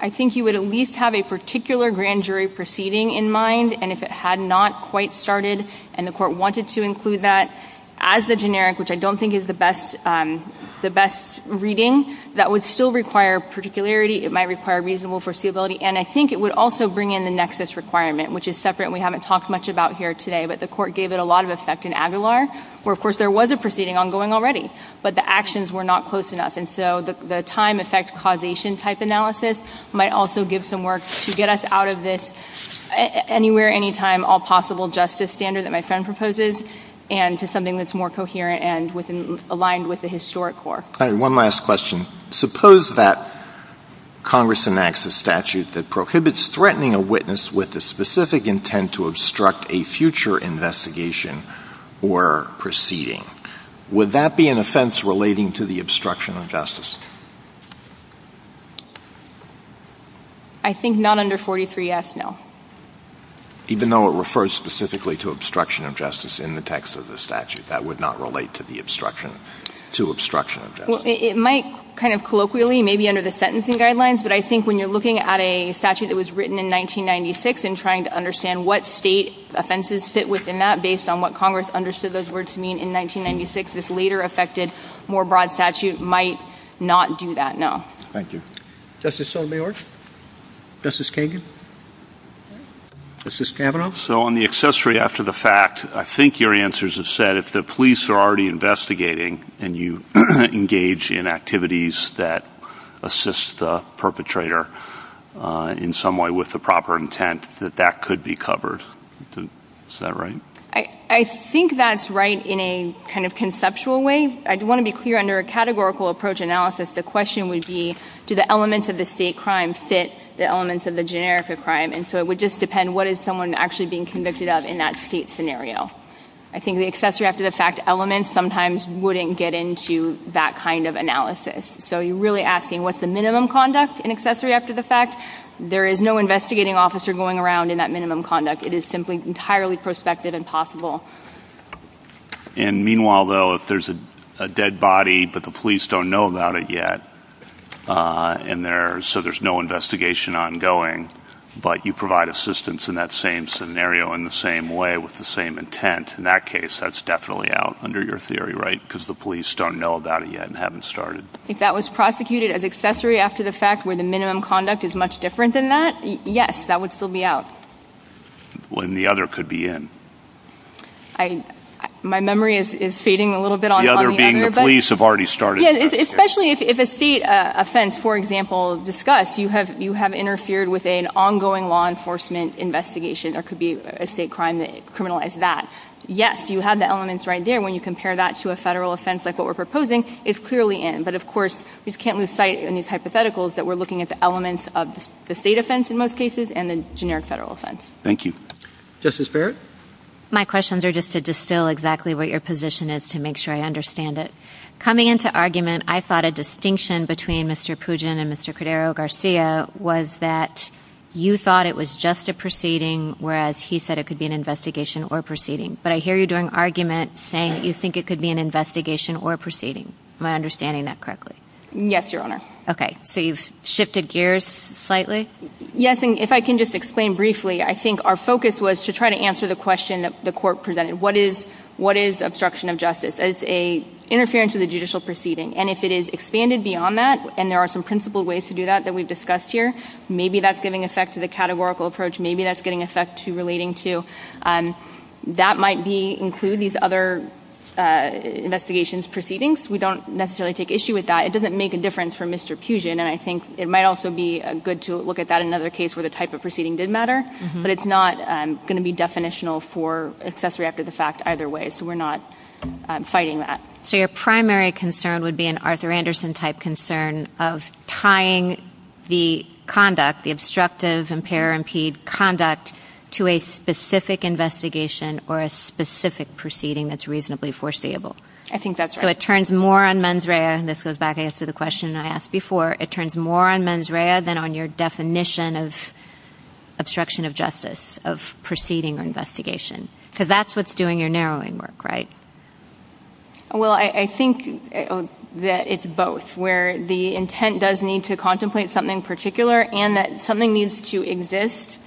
I think you would at least have a particular grand jury proceeding in mind. And if it had not quite started and the court wanted to include that as a generic, which I don't think is the best reading, that would still require particularity. It might require reasonable foreseeability. And I think it would also bring in the nexus requirement, which is separate and we haven't talked much about here today, but the court gave it a lot of effect in Aguilar, where of course there was a proceeding ongoing already, but the actions were not close enough. And so the time effect causation type analysis might also give some work to get us out of this anywhere, anytime, all possible justice standard that my friend proposes and to something that's more coherent and aligned with the historic court. All right. One last question. Suppose that Congress enacts a statute that prohibits threatening a witness with the specific intent to obstruct a future investigation or proceeding. Would that be an offense relating to the obstruction of justice? I think not under 43S, no. Even though it refers specifically to obstruction of justice in the text of the statute, that would not relate to the obstruction, to obstruction of justice? It might kind of colloquially, maybe under the sentencing guidelines, but I think when you're looking at a statute that was written in 1996 and trying to understand what state offenses fit within that based on what Congress understood those words to mean in 1996, this later effected more broad statute might not do that, no. Thank you. Justice Sotomayor? Justice Kagan? Justice Cameron? So on the accessory after the fact, I think your answers have said if the police are already in some way with the proper intent, that that could be covered. Is that right? I think that's right in a kind of conceptual way. I want to be clear, under a categorical approach analysis, the question would be, do the elements of the state crime fit the elements of the generica crime? And so it would just depend what is someone actually being convicted of in that state scenario. I think the accessory after the fact element sometimes wouldn't get into that kind of analysis. So you're really asking what's minimum conduct in accessory after the fact? There is no investigating officer going around in that minimum conduct. It is simply entirely prospective and possible. And meanwhile, though, if there's a dead body, but the police don't know about it yet, so there's no investigation ongoing, but you provide assistance in that same scenario in the same way with the same intent, in that case that's definitely out under your theory, right? Because the police don't know about it yet and haven't started. If that was prosecuted as accessory after the fact where the minimum conduct is much different than that, yes, that would still be out. The other could be in. My memory is fading a little bit. The other being the police have already started. Especially if a state offense, for example, is discussed, you have interfered with an ongoing law enforcement investigation. There could be a state crime that criminalized that. Yes, you have the elements right there when you compare that to a federal offense like we're proposing if clearly in. But of course, we can't lose sight in these hypotheticals that we're looking at the elements of the state offense in most cases and the generic federal offense. Thank you. Justice Barrett? My questions are just to distill exactly what your position is to make sure I understand it. Coming into argument, I thought a distinction between Mr. Pugin and Mr. Cordero-Garcia was that you thought it was just a proceeding, whereas he said it could be an investigation or proceeding. But I hear you doing argument saying you think it could be an investigation or proceeding. Am I understanding that correctly? Yes, Your Honor. Okay. So you've shifted gears slightly? Yes. And if I can just explain briefly, I think our focus was to try to answer the question that the court presented. What is obstruction of justice? It's an interference of the judicial proceeding. And if it is expanded beyond that, and there are some principled ways to do that that we've discussed here, maybe that's giving effect to the categorical approach. Maybe that's relating to that might include these other investigations proceedings. We don't necessarily take issue with that. It doesn't make a difference for Mr. Pugin. And I think it might also be good to look at that in another case where the type of proceeding did matter, but it's not going to be definitional for accessory after the fact either way. So we're not fighting that. So your primary concern would be an Arthur Anderson-type concern of tying the conduct, the obstructive impair or impede conduct to a specific investigation or a specific proceeding that's reasonably foreseeable. I think that's right. So it turns more on mens rea, and this goes back to the question I asked before, it turns more on mens rea than on your definition of obstruction of justice, of proceeding or investigation. So that's what's doing your narrowing work, right? Well, I think that it's both where the intent does need to contemplate something in particular, and that something needs to exist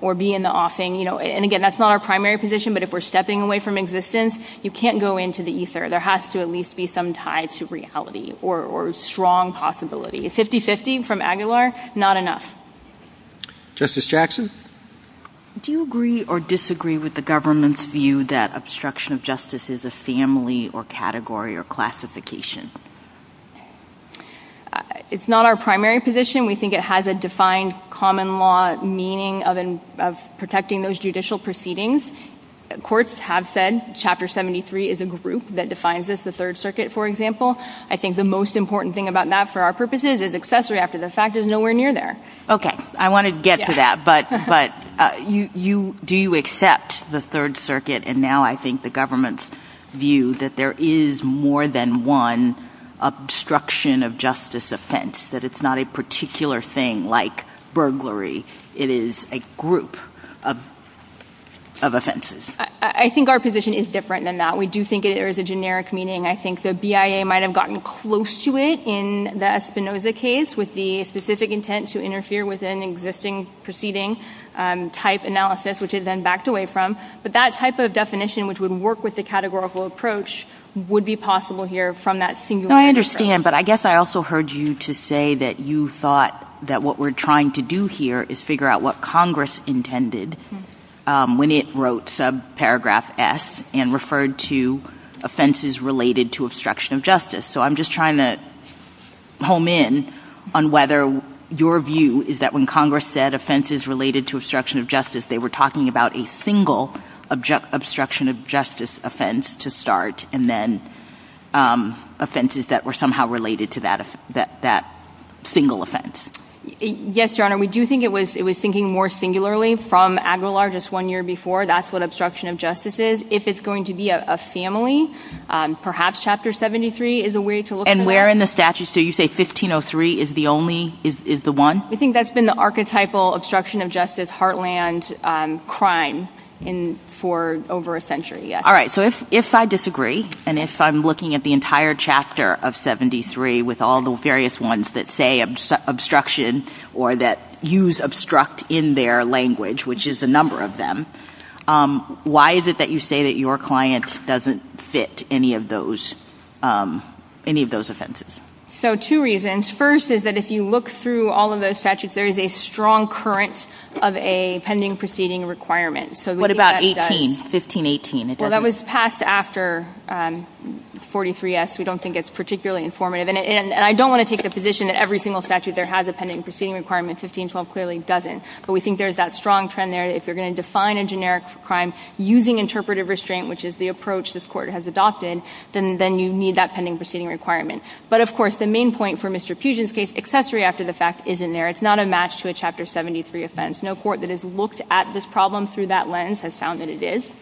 or be in the offing. And again, that's not our primary position, but if we're stepping away from existence, you can't go into the ether. There has to at least be some tie to reality or strong possibility. 50-50 from Aguilar, not enough. Justice Jackson? Do you agree or disagree with the government's view that obstruction of justice is a family or category or classification? It's not our primary position. We think it has a defined common law meaning of protecting those judicial proceedings. Courts have said Chapter 73 is a group that defines this, the Third Circuit, for example. I think the most important thing about that for our purposes is accessory after the fact is nowhere near there. Okay. I want to get to that, but do you accept the Third Circuit, and now I think the government's there is more than one obstruction of justice offense, that it's not a particular thing like burglary. It is a group of offenses. I think our position is different than that. We do think there is a generic meaning. I think the BIA might have gotten close to it in the Espinoza case with the specific intent to interfere with an existing proceeding type analysis, which it then backed away from. But that type of definition, which would work with the categorical approach, would be possible here from that singular interest. I understand, but I guess I also heard you to say that you thought that what we're trying to do here is figure out what Congress intended when it wrote subparagraph S and referred to offenses related to obstruction of justice. So I'm just trying to home in on whether your view is that when Congress said obstruction of justice offense to start and then offenses that were somehow related to that single offense. Yes, Your Honor. We do think it was thinking more singularly from Aguilar just one year before. That's what obstruction of justice is. If it's going to be a family, perhaps Chapter 73 is a way to look at that. And where in the statute? So you say 1503 is the one? I think that's been archetypal obstruction of justice heartland crime for over a century. All right. So if I disagree, and if I'm looking at the entire chapter of 73 with all the various ones that say obstruction or that use obstruct in their language, which is a number of them, why is it that you say that your client doesn't fit any of those offenses? So two reasons. First is that if you look through all of those statutes, there is a strong current of a pending proceeding requirement. So what about 1518? Well, that was passed after 43S. We don't think it's particularly informative. And I don't want to take the position that every single statute there has a pending proceeding requirement. 1512 clearly doesn't. But we think there's that strong trend there. If you're going to define a generic crime using interpretive restraint, which is the approach this Court has adopted, then you need that pending proceeding requirement. But of course, the main point for Mr. Fugin's case, accessory after the fact, isn't there. It's not a match to a Chapter 73 offense. No court that has looked at this problem through that lens has found that it is.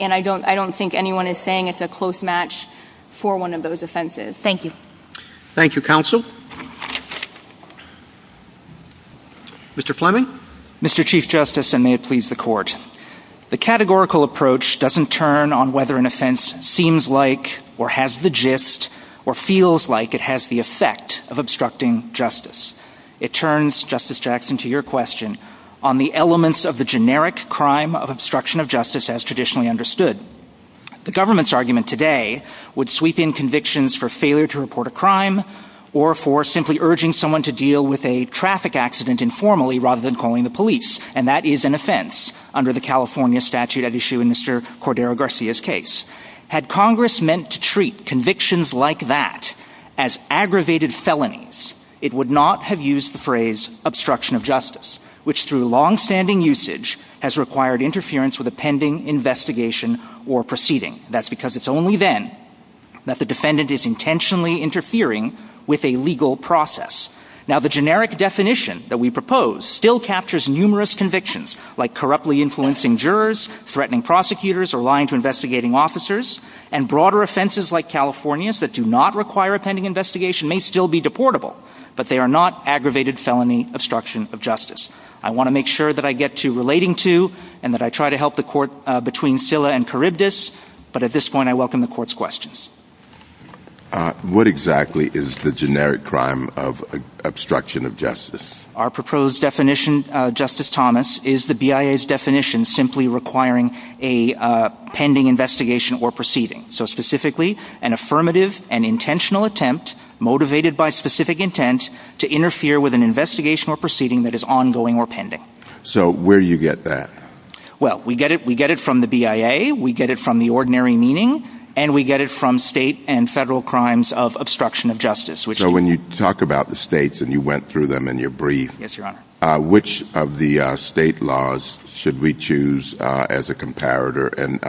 And I don't think anyone is saying it's a close match for one of those offenses. Thank you. Thank you, Counsel. Mr. Fleming? Mr. Chief Justice, and may it please the Court. The categorical approach doesn't turn on whether an offense seems like or has the gist or feels like it has the effect of obstructing justice. It turns, Justice Jackson, to your question, on the elements of the generic crime of obstruction of justice as traditionally understood. The government's argument today would sweep in convictions for failure to report a crime or for simply urging someone to deal with a traffic accident informally rather than calling the police. And that is an offense under the California statute at issue in Mr. Cordero Garcia's case. Had Congress meant to treat convictions like that as aggravated felonies, it would not have used the phrase obstruction of justice, which through longstanding usage has required interference with a pending investigation or proceeding. That's because it's only then that the defendant is intentionally interfering with a legal process. Now, the generic definition that we propose still captures numerous convictions like corruptly influencing jurors, threatening prosecutors, or lying to investigating officers, and broader offenses like California's that do not require a pending investigation may still be deportable, but they are not aggravated felony obstruction of justice. I want to make sure that I get to relating to and that I try to help the Court between Silla and Charybdis, but at this point I welcome the Court's questions. What exactly is the generic crime of obstruction of justice? Our proposed definition, Justice Thomas, is the BIA's definition simply requiring a pending investigation or proceeding. So specifically, an affirmative and intentional attempt motivated by specific intent to interfere with an investigation or proceeding that is ongoing or pending. So where do you get that? Well, we get it from the BIA, we get it from the ordinary meaning, and we get it from state and federal crimes of obstruction of justice. So when you talk about the states and you went through them in your brief, which of the state laws should we choose as a comparator? And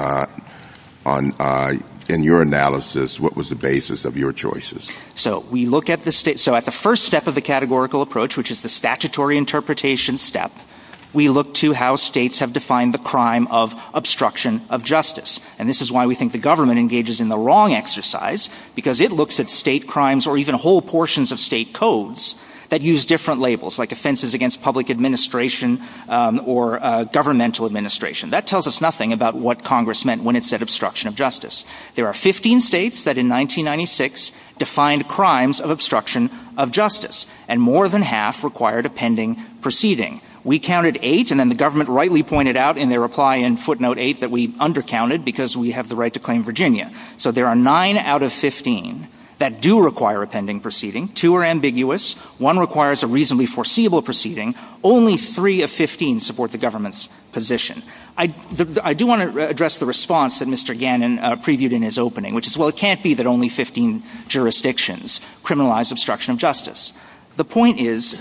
in your analysis, what was the basis of your choices? So we look at the state, so at the first step of the categorical approach, which is the statutory interpretation step, we look to how states have defined the crime of obstruction of justice. And this is why we think the government engages in the wrong exercise, because it looks at state codes that use different labels, like offenses against public administration or governmental administration. That tells us nothing about what Congress meant when it said obstruction of justice. There are 15 states that in 1996 defined crimes of obstruction of justice, and more than half required a pending proceeding. We counted eight, and then the government rightly pointed out in their reply in footnote eight that we undercounted because we have the right to claim Virginia. So there are nine out of 15 that do require a pending proceeding. Two are ambiguous. One requires a reasonably foreseeable proceeding. Only three of 15 support the government's position. I do want to address the response that Mr. Gannon previewed in his opening, which is, well, it can't be that only 15 jurisdictions criminalize obstruction of justice. The point is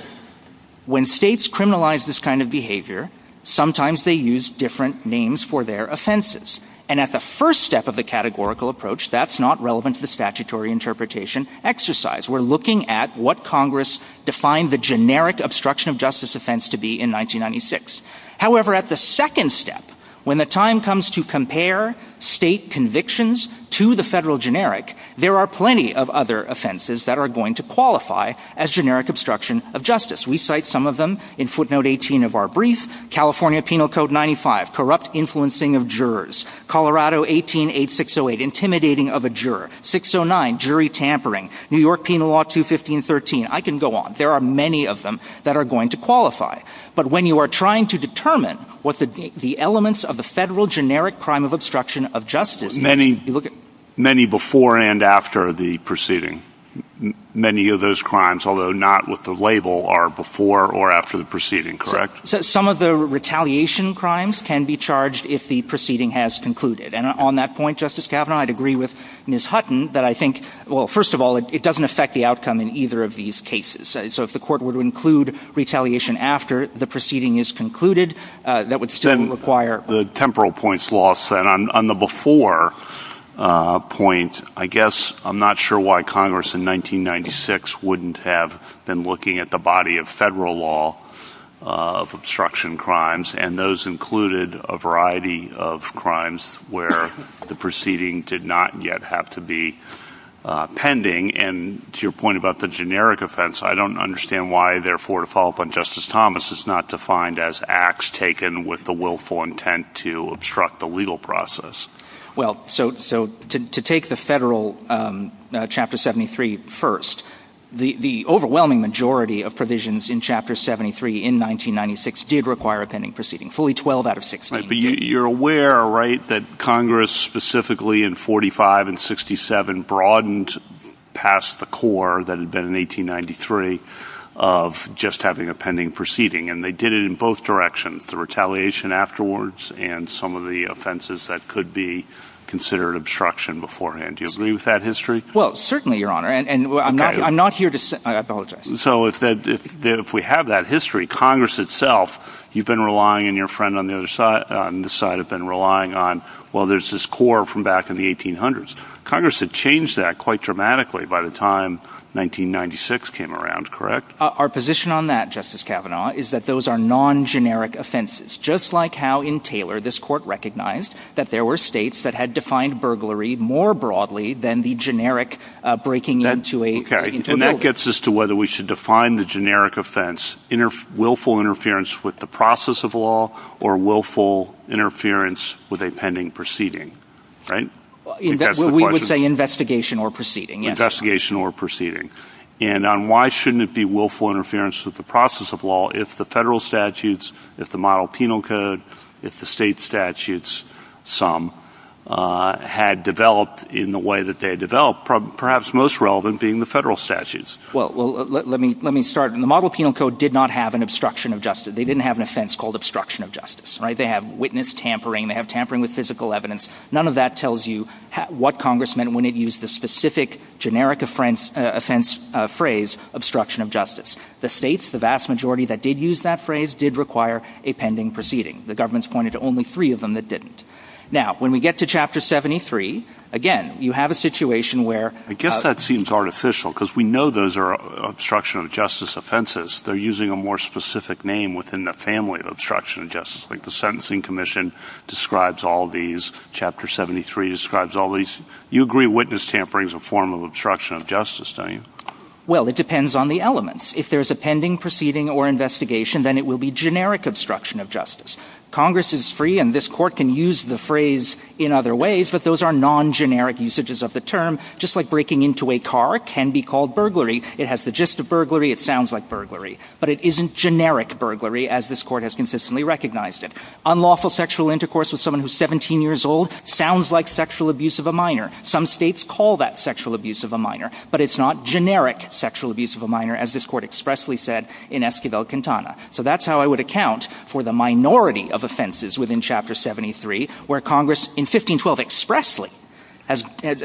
when states criminalize this kind of behavior, sometimes they use different names for their categorical approach. That's not relevant to the statutory interpretation exercise. We're looking at what Congress defined the generic obstruction of justice offense to be in 1996. However, at the second step, when the time comes to compare state convictions to the federal generic, there are plenty of other offenses that are going to qualify as generic obstruction of justice. We cite some of them in footnote 18 of our brief. California Penal Code 95, corrupt influencing of a juror. 609, jury tampering. New York Penal Law 21513. I can go on. There are many of them that are going to qualify. But when you are trying to determine what the elements of the federal generic crime of obstruction of justice... Many before and after the proceeding. Many of those crimes, although not with the label, are before or after the proceeding, correct? Some of the with Ms. Hutton. First of all, it doesn't affect the outcome in either of these cases. So if the court were to include retaliation after the proceeding is concluded, that would still require... The temporal points law said on the before point, I guess I'm not sure why Congress in 1996 wouldn't have been looking at the body of federal law of obstruction crimes, and those included a variety of crimes where the proceeding did not yet have to be pending. And to your point about the generic offense, I don't understand why, therefore, to follow up on Justice Thomas, it's not defined as acts taken with the willful intent to obstruct the legal process. Well, so to take the federal Chapter 73 first, the overwhelming majority of provisions in Chapter 73 in 1996 did require a right that Congress specifically in 45 and 67 broadened past the core that had been in 1893 of just having a pending proceeding. And they did it in both directions, the retaliation afterwards and some of the offenses that could be considered obstruction beforehand. Do you agree with that history? Well, certainly, Your Honor. And I'm not here to... I apologize. So if we have that history, Congress itself, you've been relying on your friend on the other side, on this side have been relying on, well, there's this core from back in the 1800s. Congress had changed that quite dramatically by the time 1996 came around, correct? Our position on that, Justice Kavanaugh, is that those are non-generic offenses, just like how in Taylor, this court recognized that there were states that had defined burglary more broadly than the generic breaking into a... Okay, and that gets us to whether we should define the generic offense, willful interference with the process of law or willful interference with a pending proceeding, right? We would say investigation or proceeding. Investigation or proceeding. And on why shouldn't it be willful interference with the process of law if the federal statutes, if the model penal code, if the state statutes, some, had developed in the way that they developed, perhaps most relevant being the federal statutes? Well, let me start. And the model penal code did not have an obstruction of justice. They didn't have an offense called obstruction of justice, right? They have witness tampering, they have tampering with physical evidence. None of that tells you what Congress meant when it used the specific generic offense phrase, obstruction of justice. The states, the vast majority that did use that phrase did require a pending proceeding. The government's pointed to only three of them that didn't. Now, when we get to chapter 73, again, you have a situation where... ...obstruction of justice offenses, they're using a more specific name within the family of obstruction of justice, like the Sentencing Commission describes all these, chapter 73 describes all these. You agree witness tampering is a form of obstruction of justice, don't you? Well, it depends on the elements. If there's a pending proceeding or investigation, then it will be generic obstruction of justice. Congress is free and this court can use the phrase in other ways, but those are non-generic usages of the term, just like breaking into a It has the gist of burglary, it sounds like burglary, but it isn't generic burglary, as this court has consistently recognized it. Unlawful sexual intercourse with someone who's 17 years old sounds like sexual abuse of a minor. Some states call that sexual abuse of a minor, but it's not generic sexual abuse of a minor, as this court expressly said in Esquivel-Quintana. So that's how I would account for the minority of offenses within chapter 73, where Congress in 1512 expressly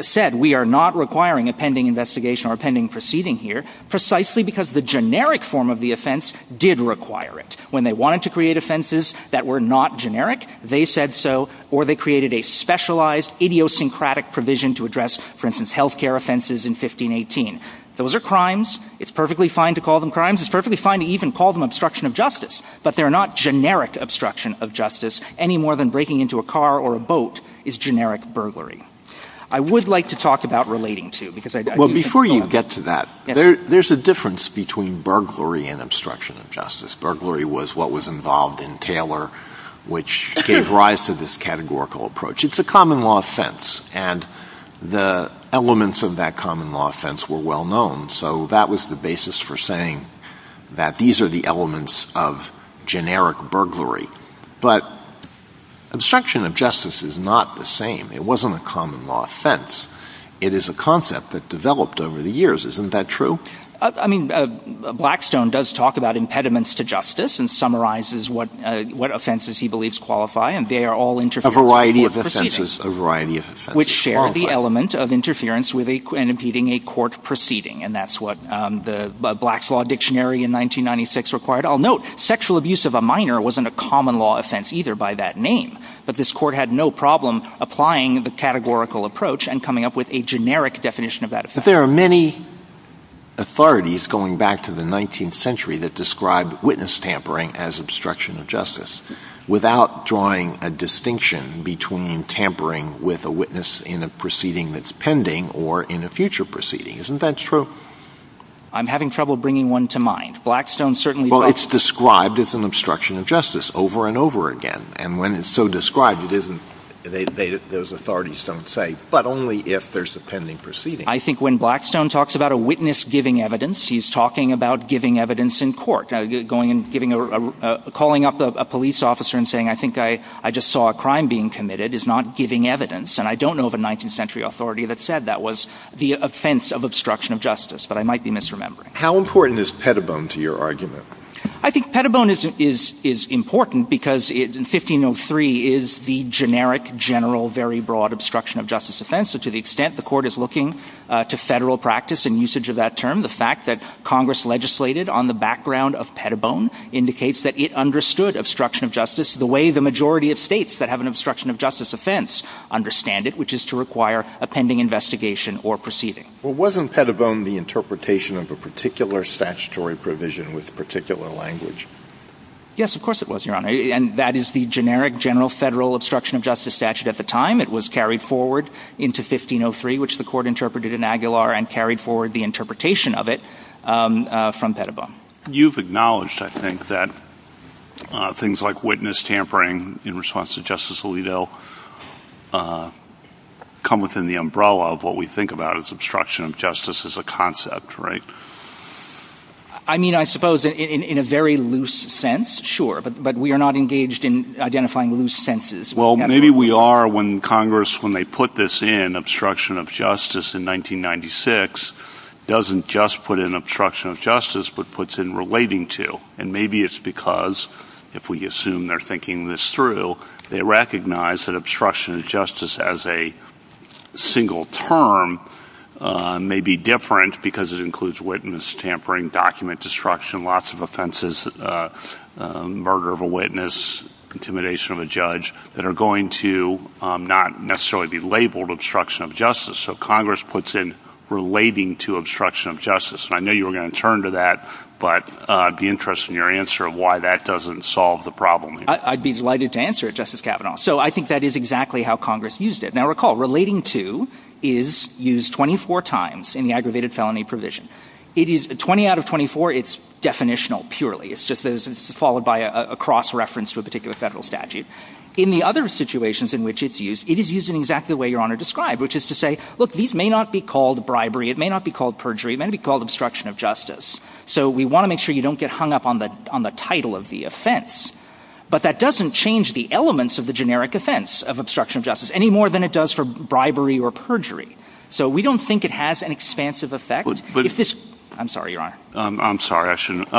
said, we are not requiring a pending investigation or a pending proceeding here, precisely because the generic form of the offense did require it. When they wanted to create offenses that were not generic, they said so, or they created a specialized idiosyncratic provision to address, for instance, health care offenses in 1518. Those are crimes, it's perfectly fine to call them crimes, it's perfectly fine to even call them obstruction of justice, but they're not generic obstruction of justice, any more than breaking into a car or a boat is generic burglary. I would like to talk about relating to, because- Well, before you get to that, there's a difference between burglary and obstruction of justice. Burglary was what was involved in Taylor, which gave rise to this categorical approach. It's a common law offense, and the elements of that common law offense were well known. That was the basis for saying that these are the elements of generic burglary. Obstruction of justice is not the same. It wasn't a common law offense. It is a concept that developed over the years. Isn't that true? Blackstone does talk about impediments to justice and summarizes what offenses he believes qualify, and they are all- A variety of offenses, a variety of offenses. Which share the element of interference in impeding a court proceeding, and that's what the Black's Law Dictionary in 1996 required. I'll note, sexual abuse of a minor wasn't a common law offense either by that name, but this court had no problem applying the categorical approach and coming up with a generic definition of that offense. There are many authorities going back to the 19th century that describe witness tampering as obstruction of justice without drawing a distinction between tampering with a witness in a proceeding that's pending or in a future proceeding. Isn't that true? I'm having trouble bringing one to mind. Blackstone certainly- Well, it's described as an obstruction of justice over and over again, and when it's so described, those authorities don't say, but only if there's a pending proceeding. I think when Blackstone talks about a witness giving evidence, he's talking about giving evidence in court. Calling up a police officer and saying, I think I just saw a crime being committed is not giving evidence. I don't know of a 19th century authority that said that was the offense of obstruction of justice, but I might be misremembering. How important is pettibone to your argument? I think pettibone is important because 1503 is the generic, general, very broad obstruction of justice offense. To the extent the court is looking to federal practice and usage of that fact that Congress legislated on the background of pettibone indicates that it understood obstruction of justice the way the majority of states that have an obstruction of justice offense understand it, which is to require a pending investigation or proceeding. Wasn't pettibone the interpretation of a particular statutory provision with a particular language? Yes, of course it was, Your Honor. That is the generic, general, federal obstruction of justice statute at the time. It was carried forward into 1503, which the court interpreted and carried forward the interpretation of it from pettibone. You've acknowledged, I think, that things like witness tampering in response to Justice Alito come within the umbrella of what we think about as obstruction of justice as a concept, right? I mean, I suppose in a very loose sense, sure, but we are not engaged in identifying loose senses. Well, maybe we are when Congress, when they put this in, obstruction of justice in 1996, doesn't just put in obstruction of justice, but puts in relating to. And maybe it's because, if we assume they're thinking this through, they recognize that obstruction of justice as a single term may be different because it includes witness tampering, document destruction, lots of offenses, murder of a witness, intimidation of a judge, that are going to not necessarily be labeled obstruction of justice. So Congress puts in relating to obstruction of justice. And I know you were going to turn to that, but I'd be interested in your answer of why that doesn't solve the problem. I'd be delighted to answer, Justice Kavanaugh. So I think that is exactly how Congress used it. Now recall, relating to is used 24 times in the aggravated felony provision. It is, 20 out of 24, it's definitional purely. It's just that it's followed by a cross reference to a particular federal statute. In the other situations in which it's used, it is used in exactly the way Your Honor described, which is to say, look, these may not be called bribery. It may not be called perjury. It may be called obstruction of justice. So we want to make sure you don't get hung up on the title of the offense. But that doesn't change the elements of the generic offense of obstruction of justice any more than it does for bribery or perjury. So we don't think it has an expansive effect. I'm sorry Your Honor. I'm sorry, I shouldn't.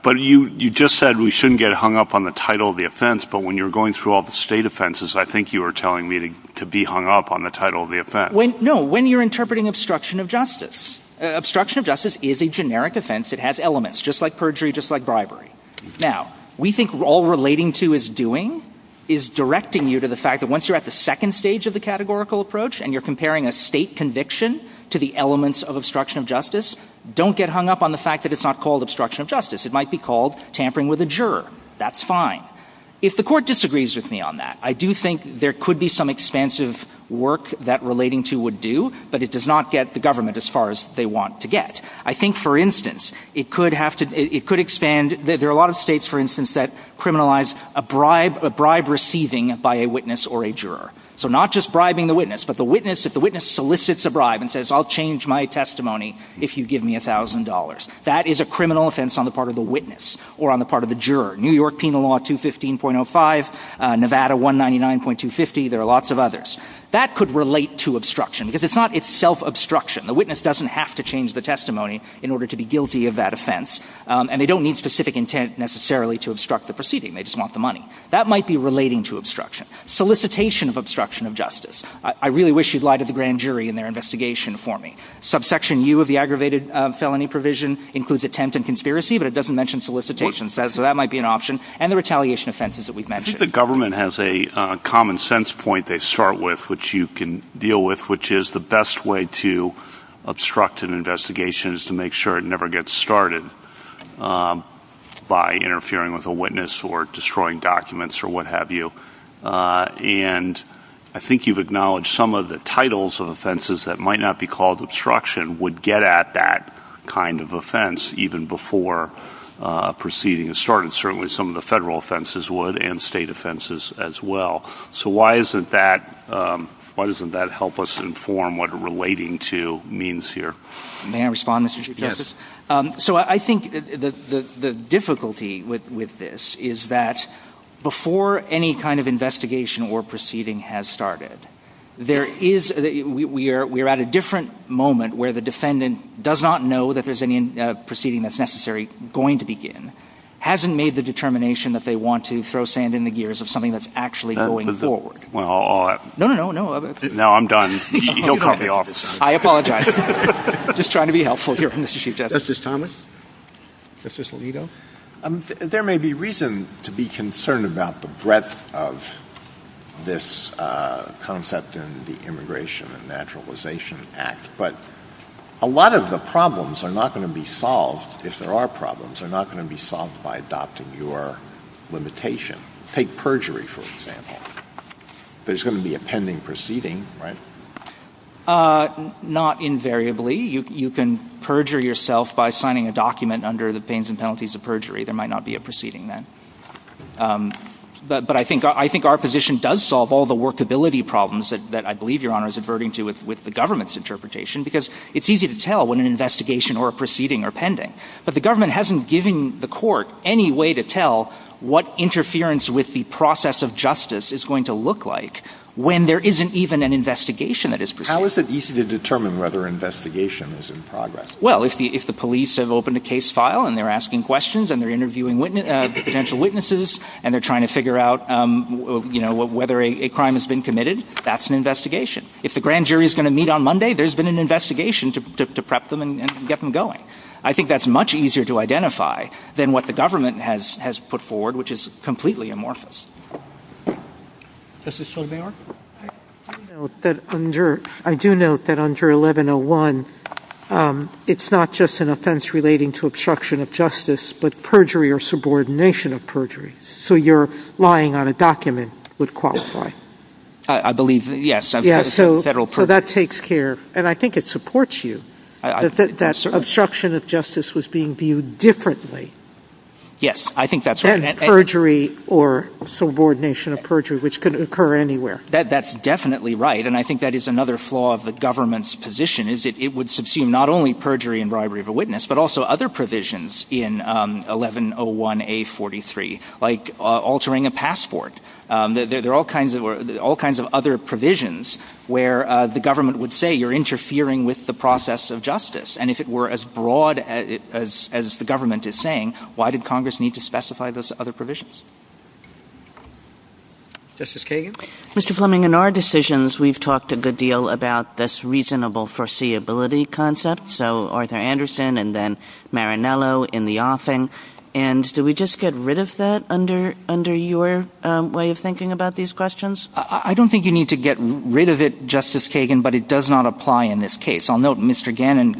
But you just said we shouldn't get hung up on the title of the offense. But when you're going through all the state offenses, I think you were telling me to be hung up on the title of the offense. No, when you're interpreting obstruction of justice. Obstruction of justice is a generic offense. It has elements, just like perjury, just like bribery. Now, we think all relating to is doing, is directing you to the fact that once you're at the second stage of the categorical approach and you're comparing a state conviction to the elements of obstruction of justice, don't get hung up on the fact that it's not called obstruction of justice. It might be called tampering with a juror. That's fine. If the court disagrees with me on that, I do think there could be some expansive work that relating to would do, but it does not get the government as far as they want to get. I think, for instance, it could have to, it could expand. There are a lot of states, for instance, that criminalize a bribe, a bribe receiving by a witness or a juror. So not just the witness, but the witness, if the witness solicits a bribe and says, I'll change my testimony if you give me $1,000, that is a criminal offense on the part of the witness or on the part of the juror. New York Penal Law 215.05, Nevada 199.250, there are lots of others. That could relate to obstruction because it's not itself obstruction. The witness doesn't have to change the testimony in order to be guilty of that offense, and they don't need specific intent necessarily to obstruct the proceeding. They just want the money. That might be relating to obstruction. Solicitation of obstruction of justice. I really wish you'd lied to the grand jury in their investigation for me. Subsection U of the aggravated felony provision includes attempt and conspiracy, but it doesn't mention solicitation, so that might be an option, and the retaliation offenses that we've mentioned. I think the government has a common sense point they start with, which you can deal with, which is the best way to obstruct an investigation is to make sure it never gets started by interfering with a witness or destroying documents or what have you. And I think you've acknowledged some of the titles of offenses that might not be called obstruction would get at that kind of offense even before proceeding is started. Certainly some of the federal offenses would and state offenses as well. So why doesn't that help us the difficulty with this is that before any kind of investigation or proceeding has started, we're at a different moment where the defendant does not know that there's any proceeding that's necessary going to begin. Hasn't made the determination that they want to throw sand in the gears of something that's actually going forward. No, no, no. No, I'm done. Call me off. I apologize. Just trying to be helpful here. This is Thomas. There may be reason to be concerned about the breadth of this concept in the Immigration and Naturalization Act, but a lot of the problems are not going to be solved. If there are problems, they're not going to be solved by adopting your limitation. Take perjury, for example. There's going to be a pending proceeding, right? Not invariably. You can perjure yourself by signing a document under the pains and penalties of perjury. There might not be a proceeding then. But I think our position does solve all the workability problems that I believe Your Honor is adverting to with the government's interpretation because it's easy to tell when an investigation or a proceeding are pending, but the government hasn't given the court any way to tell what interference with the process of justice is going to look like when there isn't even an investigation. How is it easy to determine whether an investigation is in progress? Well, if the police have opened a case file and they're asking questions and they're interviewing potential witnesses and they're trying to figure out whether a crime has been committed, that's an investigation. If the grand jury is going to meet on Monday, there's been an investigation to prep them and get them going. I think that's much easier to than what the government has put forward, which is completely amorphous. I do note that under 1101, it's not just an offense relating to obstruction of justice, but perjury or subordination of perjury. So you're lying on a document would qualify. I believe, yes. That takes care and I think it supports you. That obstruction of justice was being viewed differently. Yes, I think that's perjury or subordination of perjury, which could occur anywhere. That's definitely right. And I think that is another flaw of the government's position is it would subsume not only perjury and robbery of a witness, but also other provisions in 1101-A43, like altering a passport. There are all kinds of other provisions where the government would say you're interfering with the process of justice. And if it were as broad as the government is saying, why did Congress need to specify those other provisions? Mr. Fleming, in our decisions, we've talked a good deal about this reasonable foreseeability concept. So Arthur Anderson and then Marinello in the often. And do we just get rid of that under your way of thinking about these questions? I don't think you need to get rid of it, but it does not apply in this case. I'll note Mr. Gannon,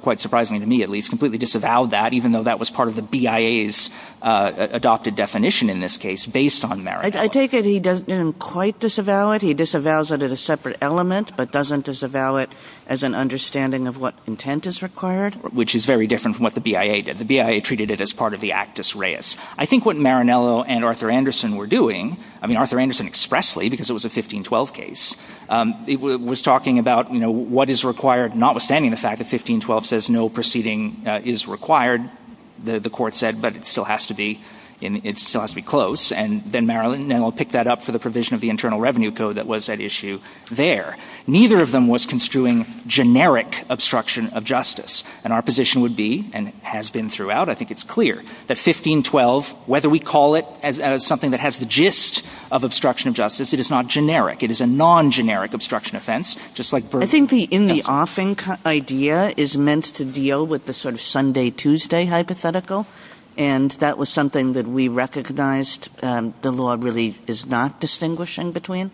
quite surprisingly to me at least, completely disavowed that even though that was part of the BIA's adopted definition in this case based on Marinello. I take it he doesn't quite disavow it. He disavows it at a separate element, but doesn't disavow it as an understanding of what intent is required. Which is very different from what the BIA did. The BIA treated it as part of the actus reus. I think what Marinello and Arthur Anderson were doing, I mean, Arthur Anderson expressly because it was a 1512 case, was talking about what is required, notwithstanding the fact that 1512 says no proceeding is required, the court said, but it still has to be close. And then Marinello picked that up for the provision of the Internal Revenue Code that was at issue there. Neither of them was construing generic obstruction of justice. And our position would be, and has been throughout, I think it's clear, that 1512, whether we call it something that has the gist of obstruction of justice, it is not generic. It is a non-generic obstruction of offense. I think the in the offing idea is meant to deal with the sort of Sunday, Tuesday hypothetical. And that was something that we recognized the law really is not distinguishing between.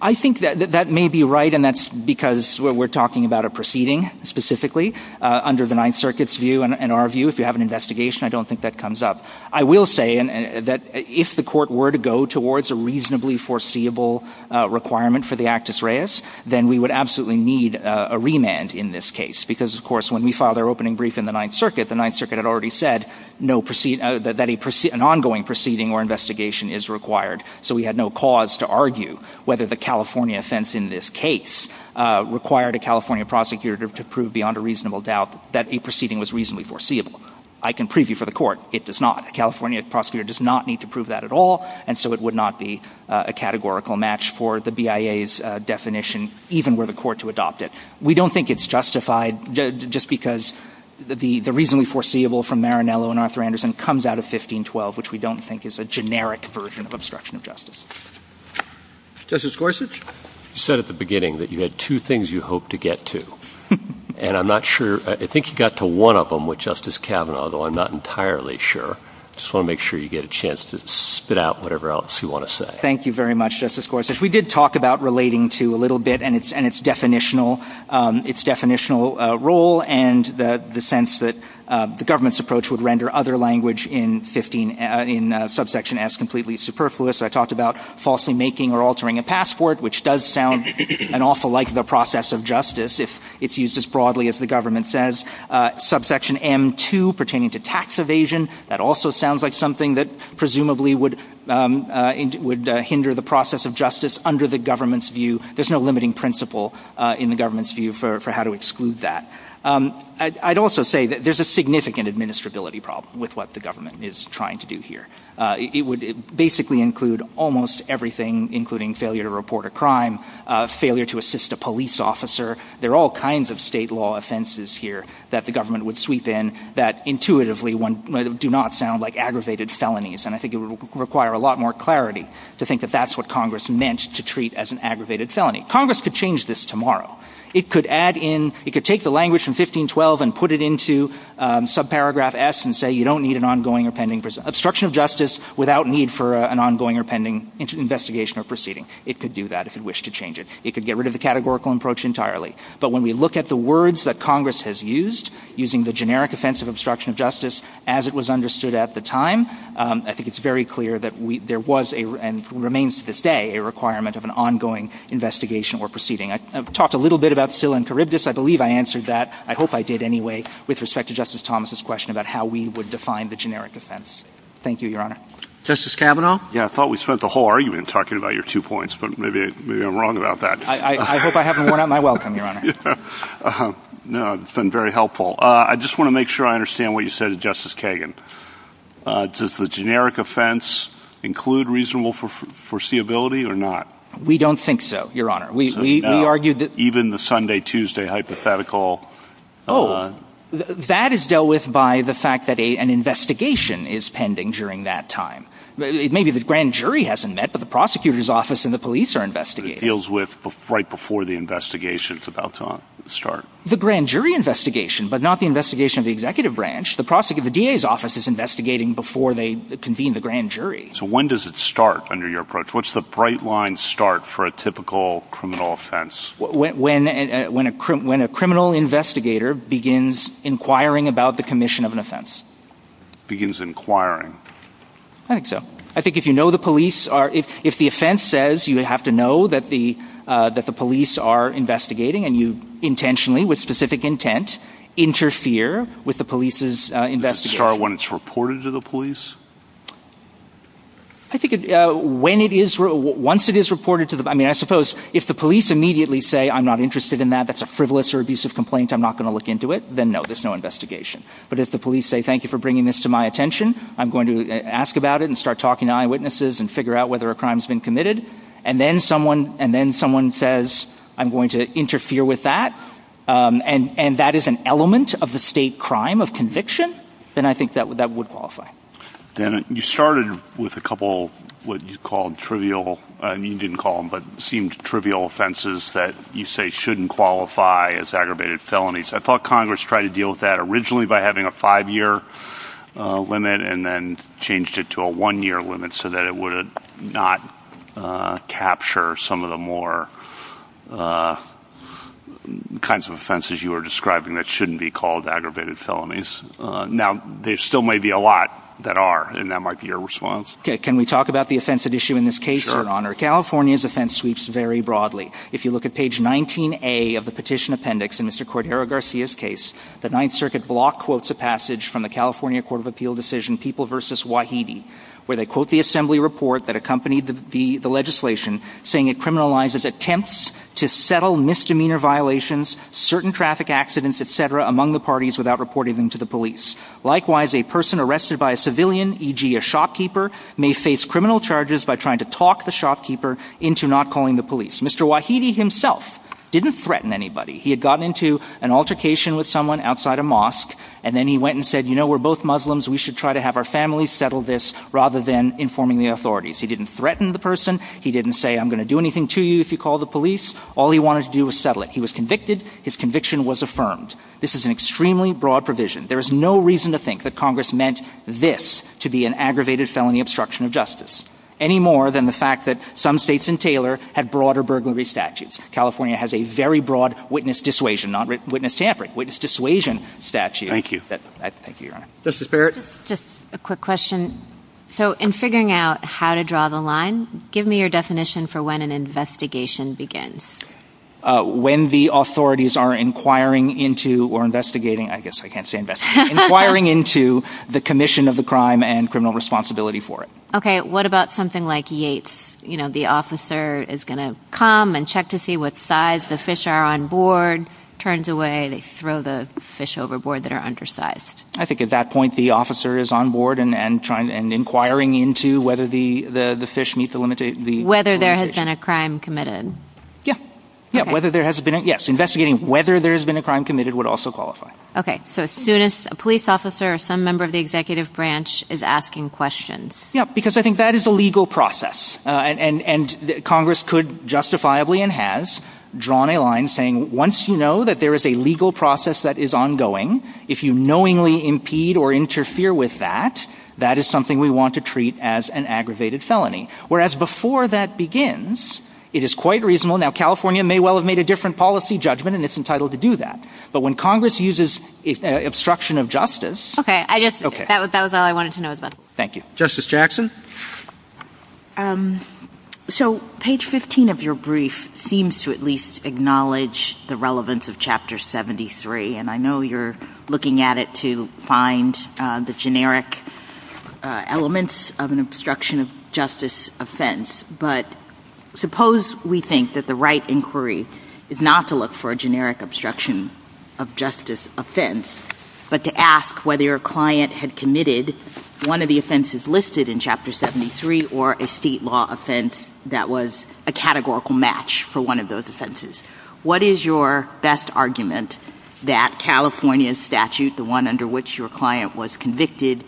I think that that may be right. And that's because we're talking about a proceeding specifically under the Ninth Circuit's view. And our view, if you have an investigation, I don't think that comes up. I will say that if the court were to go towards a reasonably foreseeable requirement for the Actus Reus, then we would absolutely need a remand in this case. Because, of course, when we filed our opening brief in the Ninth Circuit, the Ninth Circuit had already said that an ongoing proceeding or investigation is required. So we had no cause to argue whether the California sense in this case required a California prosecutor to prove beyond a reasonable doubt that a proceeding was reasonably foreseeable. I can prove you for the court, it does not. A California prosecutor does not need to prove that at all. And so it would not be a categorical match for the BIA's definition, even were the court to adopt it. We don't think it's justified just because the reasonably foreseeable from Marinello and Arthur Anderson comes out of 1512, which we don't think is a generic version of obstruction of justice. Justice Gorsuch, you said at the beginning that you had two things you hope to get to. And I'm not sure, I think you got to one of them with spit out whatever else you want to say. Thank you very much, Justice Gorsuch. We did talk about relating to a little bit and its definitional role and the sense that the government's approach would render other language in subsection S completely superfluous. I talked about falsely making or altering a passport, which does sound an awful like the process of justice, if it's used as broadly as the government says. Subsection M2, pertaining to tax evasion, that also sounds like something that presumably would hinder the process of justice under the government's view. There's no limiting principle in the government's view for how to exclude that. I'd also say that there's a significant administrability problem with what the government is trying to do here. It would basically include almost everything, including failure to report a crime, failure to assist a police officer. There are all kinds of state law offenses here that the do not sound like aggravated felonies. I think it would require a lot more clarity to think that that's what Congress meant to treat as an aggravated felony. Congress could change this tomorrow. It could add in, it could take the language from 1512 and put it into subparagraph S and say you don't need an ongoing or pending obstruction of justice without need for an ongoing or pending investigation or proceeding. It could do that if it wished to change it. It could get rid of the categorical approach entirely. But when we look at the words that Congress has used, using the generic offense of obstruction of justice as it was understood at the time, I think it's very clear that there was, and remains to this day, a requirement of an ongoing investigation or proceeding. I've talked a little bit about SILA and Charybdis. I believe I answered that. I hope I did anyway with respect to Justice Thomas's question about how we would define the generic offense. Thank you, Your Honor. Justice Kavanaugh? Yeah, I thought we spent the whole argument talking about your two points, but maybe I'm wrong about that. I hope I haven't worn out my welcome, Your Honor. No, it's been very helpful. I just want to make sure I understand what you said to Justice Kagan. Does the generic offense include reasonable foreseeability or not? We don't think so, Your Honor. We argued that... Even the Sunday-Tuesday hypothetical... Oh, that is dealt with by the fact that an investigation is pending during that time. Maybe the grand jury hasn't met, but the prosecutor's office and the police are about to start. The grand jury investigation, but not the investigation of the executive branch. The DA's office is investigating before they convene the grand jury. So when does it start under your approach? What's the bright line start for a typical criminal offense? When a criminal investigator begins inquiring about the commission of an offense. Begins inquiring? I think so. I think if you know the police are... If the offense says you have to that the police are investigating and you intentionally, with specific intent, interfere with the police's investigation... Start when it's reported to the police? I think once it is reported to the... I mean, I suppose if the police immediately say, I'm not interested in that, that's a frivolous or abusive complaint, I'm not going to look into it, then no, there's no investigation. But if the police say, thank you for bringing this to my attention, I'm going to ask about it and start talking to eyewitnesses and figure out whether a crime's been committed, and then someone says, I'm going to interfere with that, and that is an element of the state crime of conviction, then I think that would qualify. Then you started with a couple of what you called trivial... You didn't call them, but seemed trivial offenses that you say shouldn't qualify as aggravated felonies. I thought Congress tried to deal with that originally by having a five-year limit and then changed it to a one-year limit so that it would not capture some of the more kinds of offenses you were describing that shouldn't be called aggravated felonies. Now, there still may be a lot that are, and that might be your response. Okay. Can we talk about the offensive issue in this case, Your Honor? California's offense sweeps very broadly. If you look at page 19A of the petition appendix in Mr. Cordero Garcia's case, the Ninth Circuit block quotes a passage from the California Court of Appeal decision, People v. Wahidi, where they quote the Assembly report that accompanied the legislation, saying it criminalizes attempts to settle misdemeanor violations, certain traffic accidents, et cetera, among the parties without reporting them to the police. Likewise, a person arrested by a civilian, e.g. a shopkeeper, may face criminal charges by trying to talk the shopkeeper into not calling the police. Mr. Wahidi himself didn't threaten anybody. He had gotten into an altercation with someone outside a mosque, and then he went and said, You know, we're both Muslims. We should try to have our families settle this rather than informing the authorities. He didn't threaten the person. He didn't say, I'm going to do anything to you if you call the police. All he wanted to do was settle it. He was convicted. His conviction was affirmed. This is an extremely broad provision. There is no reason to think that Congress meant this to be an aggravated felony obstruction of justice, any more than the fact that some states had broader burglary statutes. California has a very broad witness dissuasion statute. Thank you. Just a quick question. So in figuring out how to draw the line, give me your definition for when an investigation begins. When the authorities are inquiring into or investigating, I guess I can't say investigating, inquiring into the commission of the crime and criminal responsibility for it. What about something like Yates? The officer is going to come and check to see what size the fish are on board. Turns away, they throw the fish overboard that are undersized. I think at that point, the officer is on board and inquiring into whether the fish meet the limit. Whether there has been a crime committed. Yeah. Yes. Investigating whether there has been a crime committed would also qualify. Okay. So as soon as a police officer or some member of the executive branch is asking questions. Yeah, because I think that is a legal process. And Congress could justifiably and has drawn a line saying, once you know that there is a legal process that is ongoing, if you knowingly impede or interfere with that, that is something we want to treat as an aggravated felony. Whereas before that begins, it is quite reasonable. Now, California may well have made a different policy judgment and it's entitled to do that. But when Congress uses obstruction of justice. Okay. I guess that was all I wanted to know as well. Thank you. Justice Jackson. So page 15 of your brief seems to at least acknowledge the relevance of Chapter 73. And I know you're looking at it to find the generic elements of an obstruction of justice offense. But suppose we think that the right inquiry is not to look for a generic obstruction of justice offense, but to ask whether your client had committed one of the offenses listed in Chapter 73 or a state law offense that was a categorical match for one of those offenses. What is your best argument that California's statute, the one under which your client was convicted,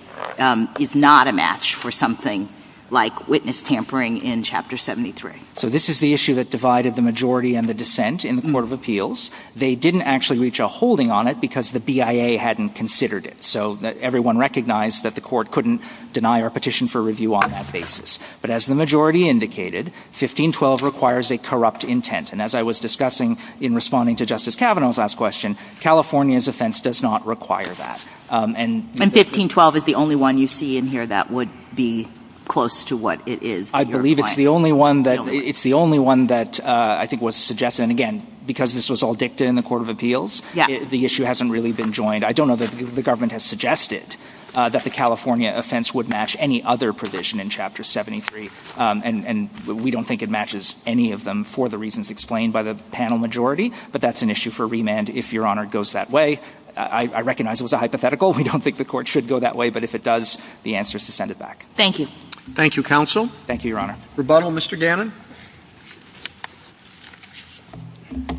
is not a match for something like witness tampering in Chapter 73? So this is the issue that divided the majority and the dissent in the Court of Appeals. They didn't actually reach a holding on it because the BIA hadn't considered it. So everyone recognized that the court couldn't deny or petition for review on that basis. But as the majority indicated, 1512 requires a corrupt intent. And as I was discussing in responding to Justice Kavanaugh's last question, California's offense does not require that. And 1512 is the only one you see in here that would be close to what it is? I believe it's the only one that I think was suggested. And again, because this was all dictated in the Court of Appeals, the issue hasn't really been joined. I don't know that the government has suggested that the California offense would match any other provision in Chapter 73. And we don't think it matches any of them for the reasons explained by the panel majority. But that's an issue for remand if, Your Honor, it goes that way. I recognize it was a hypothetical. We don't think the court should go that way. But if it does, the answer is to send it back. Thank you. Thank you, counsel. Thank you, Your Honor. Rebuttal, Mr. Gannon?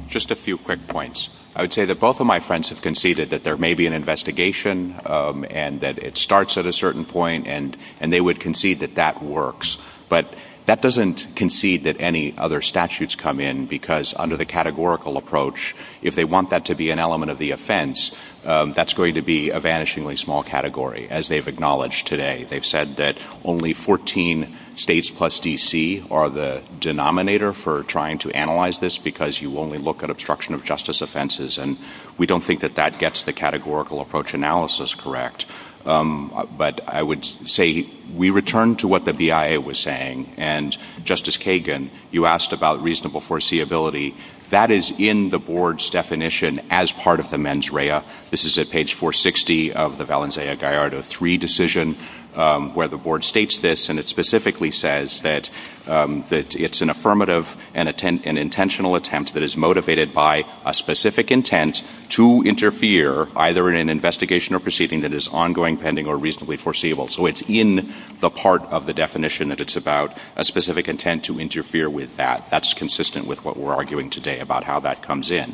Just a few quick points. I would say that both of my friends have conceded that there may be an investigation and that it starts at a certain point, and they would concede that that works. But that doesn't concede that any other statutes come in, because under the categorical approach, if they want that to be an element of the offense, that's going to be a vanishingly category, as they've acknowledged today. They've said that only 14 states plus D.C. are the denominator for trying to analyze this, because you only look at obstruction of justice offenses. And we don't think that that gets the categorical approach analysis correct. But I would say we return to what the BIA was saying. And, Justice Kagan, you asked about reasonable foreseeability. That is in the board's definition as part of the mens rea. This is at page 460 of the Valencia-Gallardo III decision, where the board states this, and it specifically says that it's an affirmative and intentional attempt that is motivated by a specific intent to interfere, either in an investigation or proceeding that is ongoing, pending, or reasonably foreseeable. So it's in the part of the definition that it's about a specific intent to interfere with that. That's consistent with what we're talking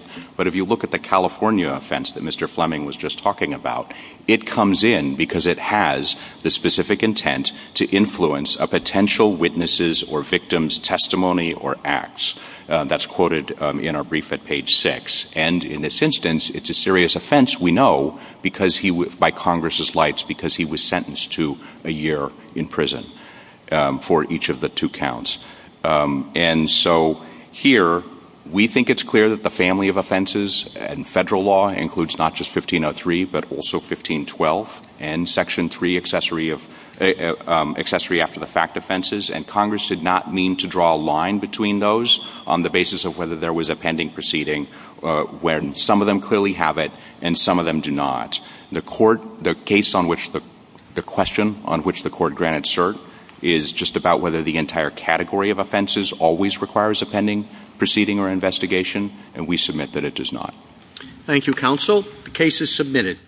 about in the California offense that Mr. Fleming was just talking about. It comes in because it has the specific intent to influence a potential witness's or victim's testimony or acts. That's quoted in our brief at page 6. And in this instance, it's a serious offense, we know, by Congress's lights, because he was sentenced to a year in prison for each of the two counts. And so here, we think it's clear that the family of offenses and federal law includes not just 1503, but also 1512, and Section 3 accessory after the fact offenses, and Congress did not mean to draw a line between those on the basis of whether there was a pending proceeding, when some of them clearly have it and some of them do not. The court, the case on which the question, on which the court granted cert, is just about whether the entire category of offenses always requires a pending proceeding or investigation, and we submit that it does not. Thank you, counsel. The case is submitted.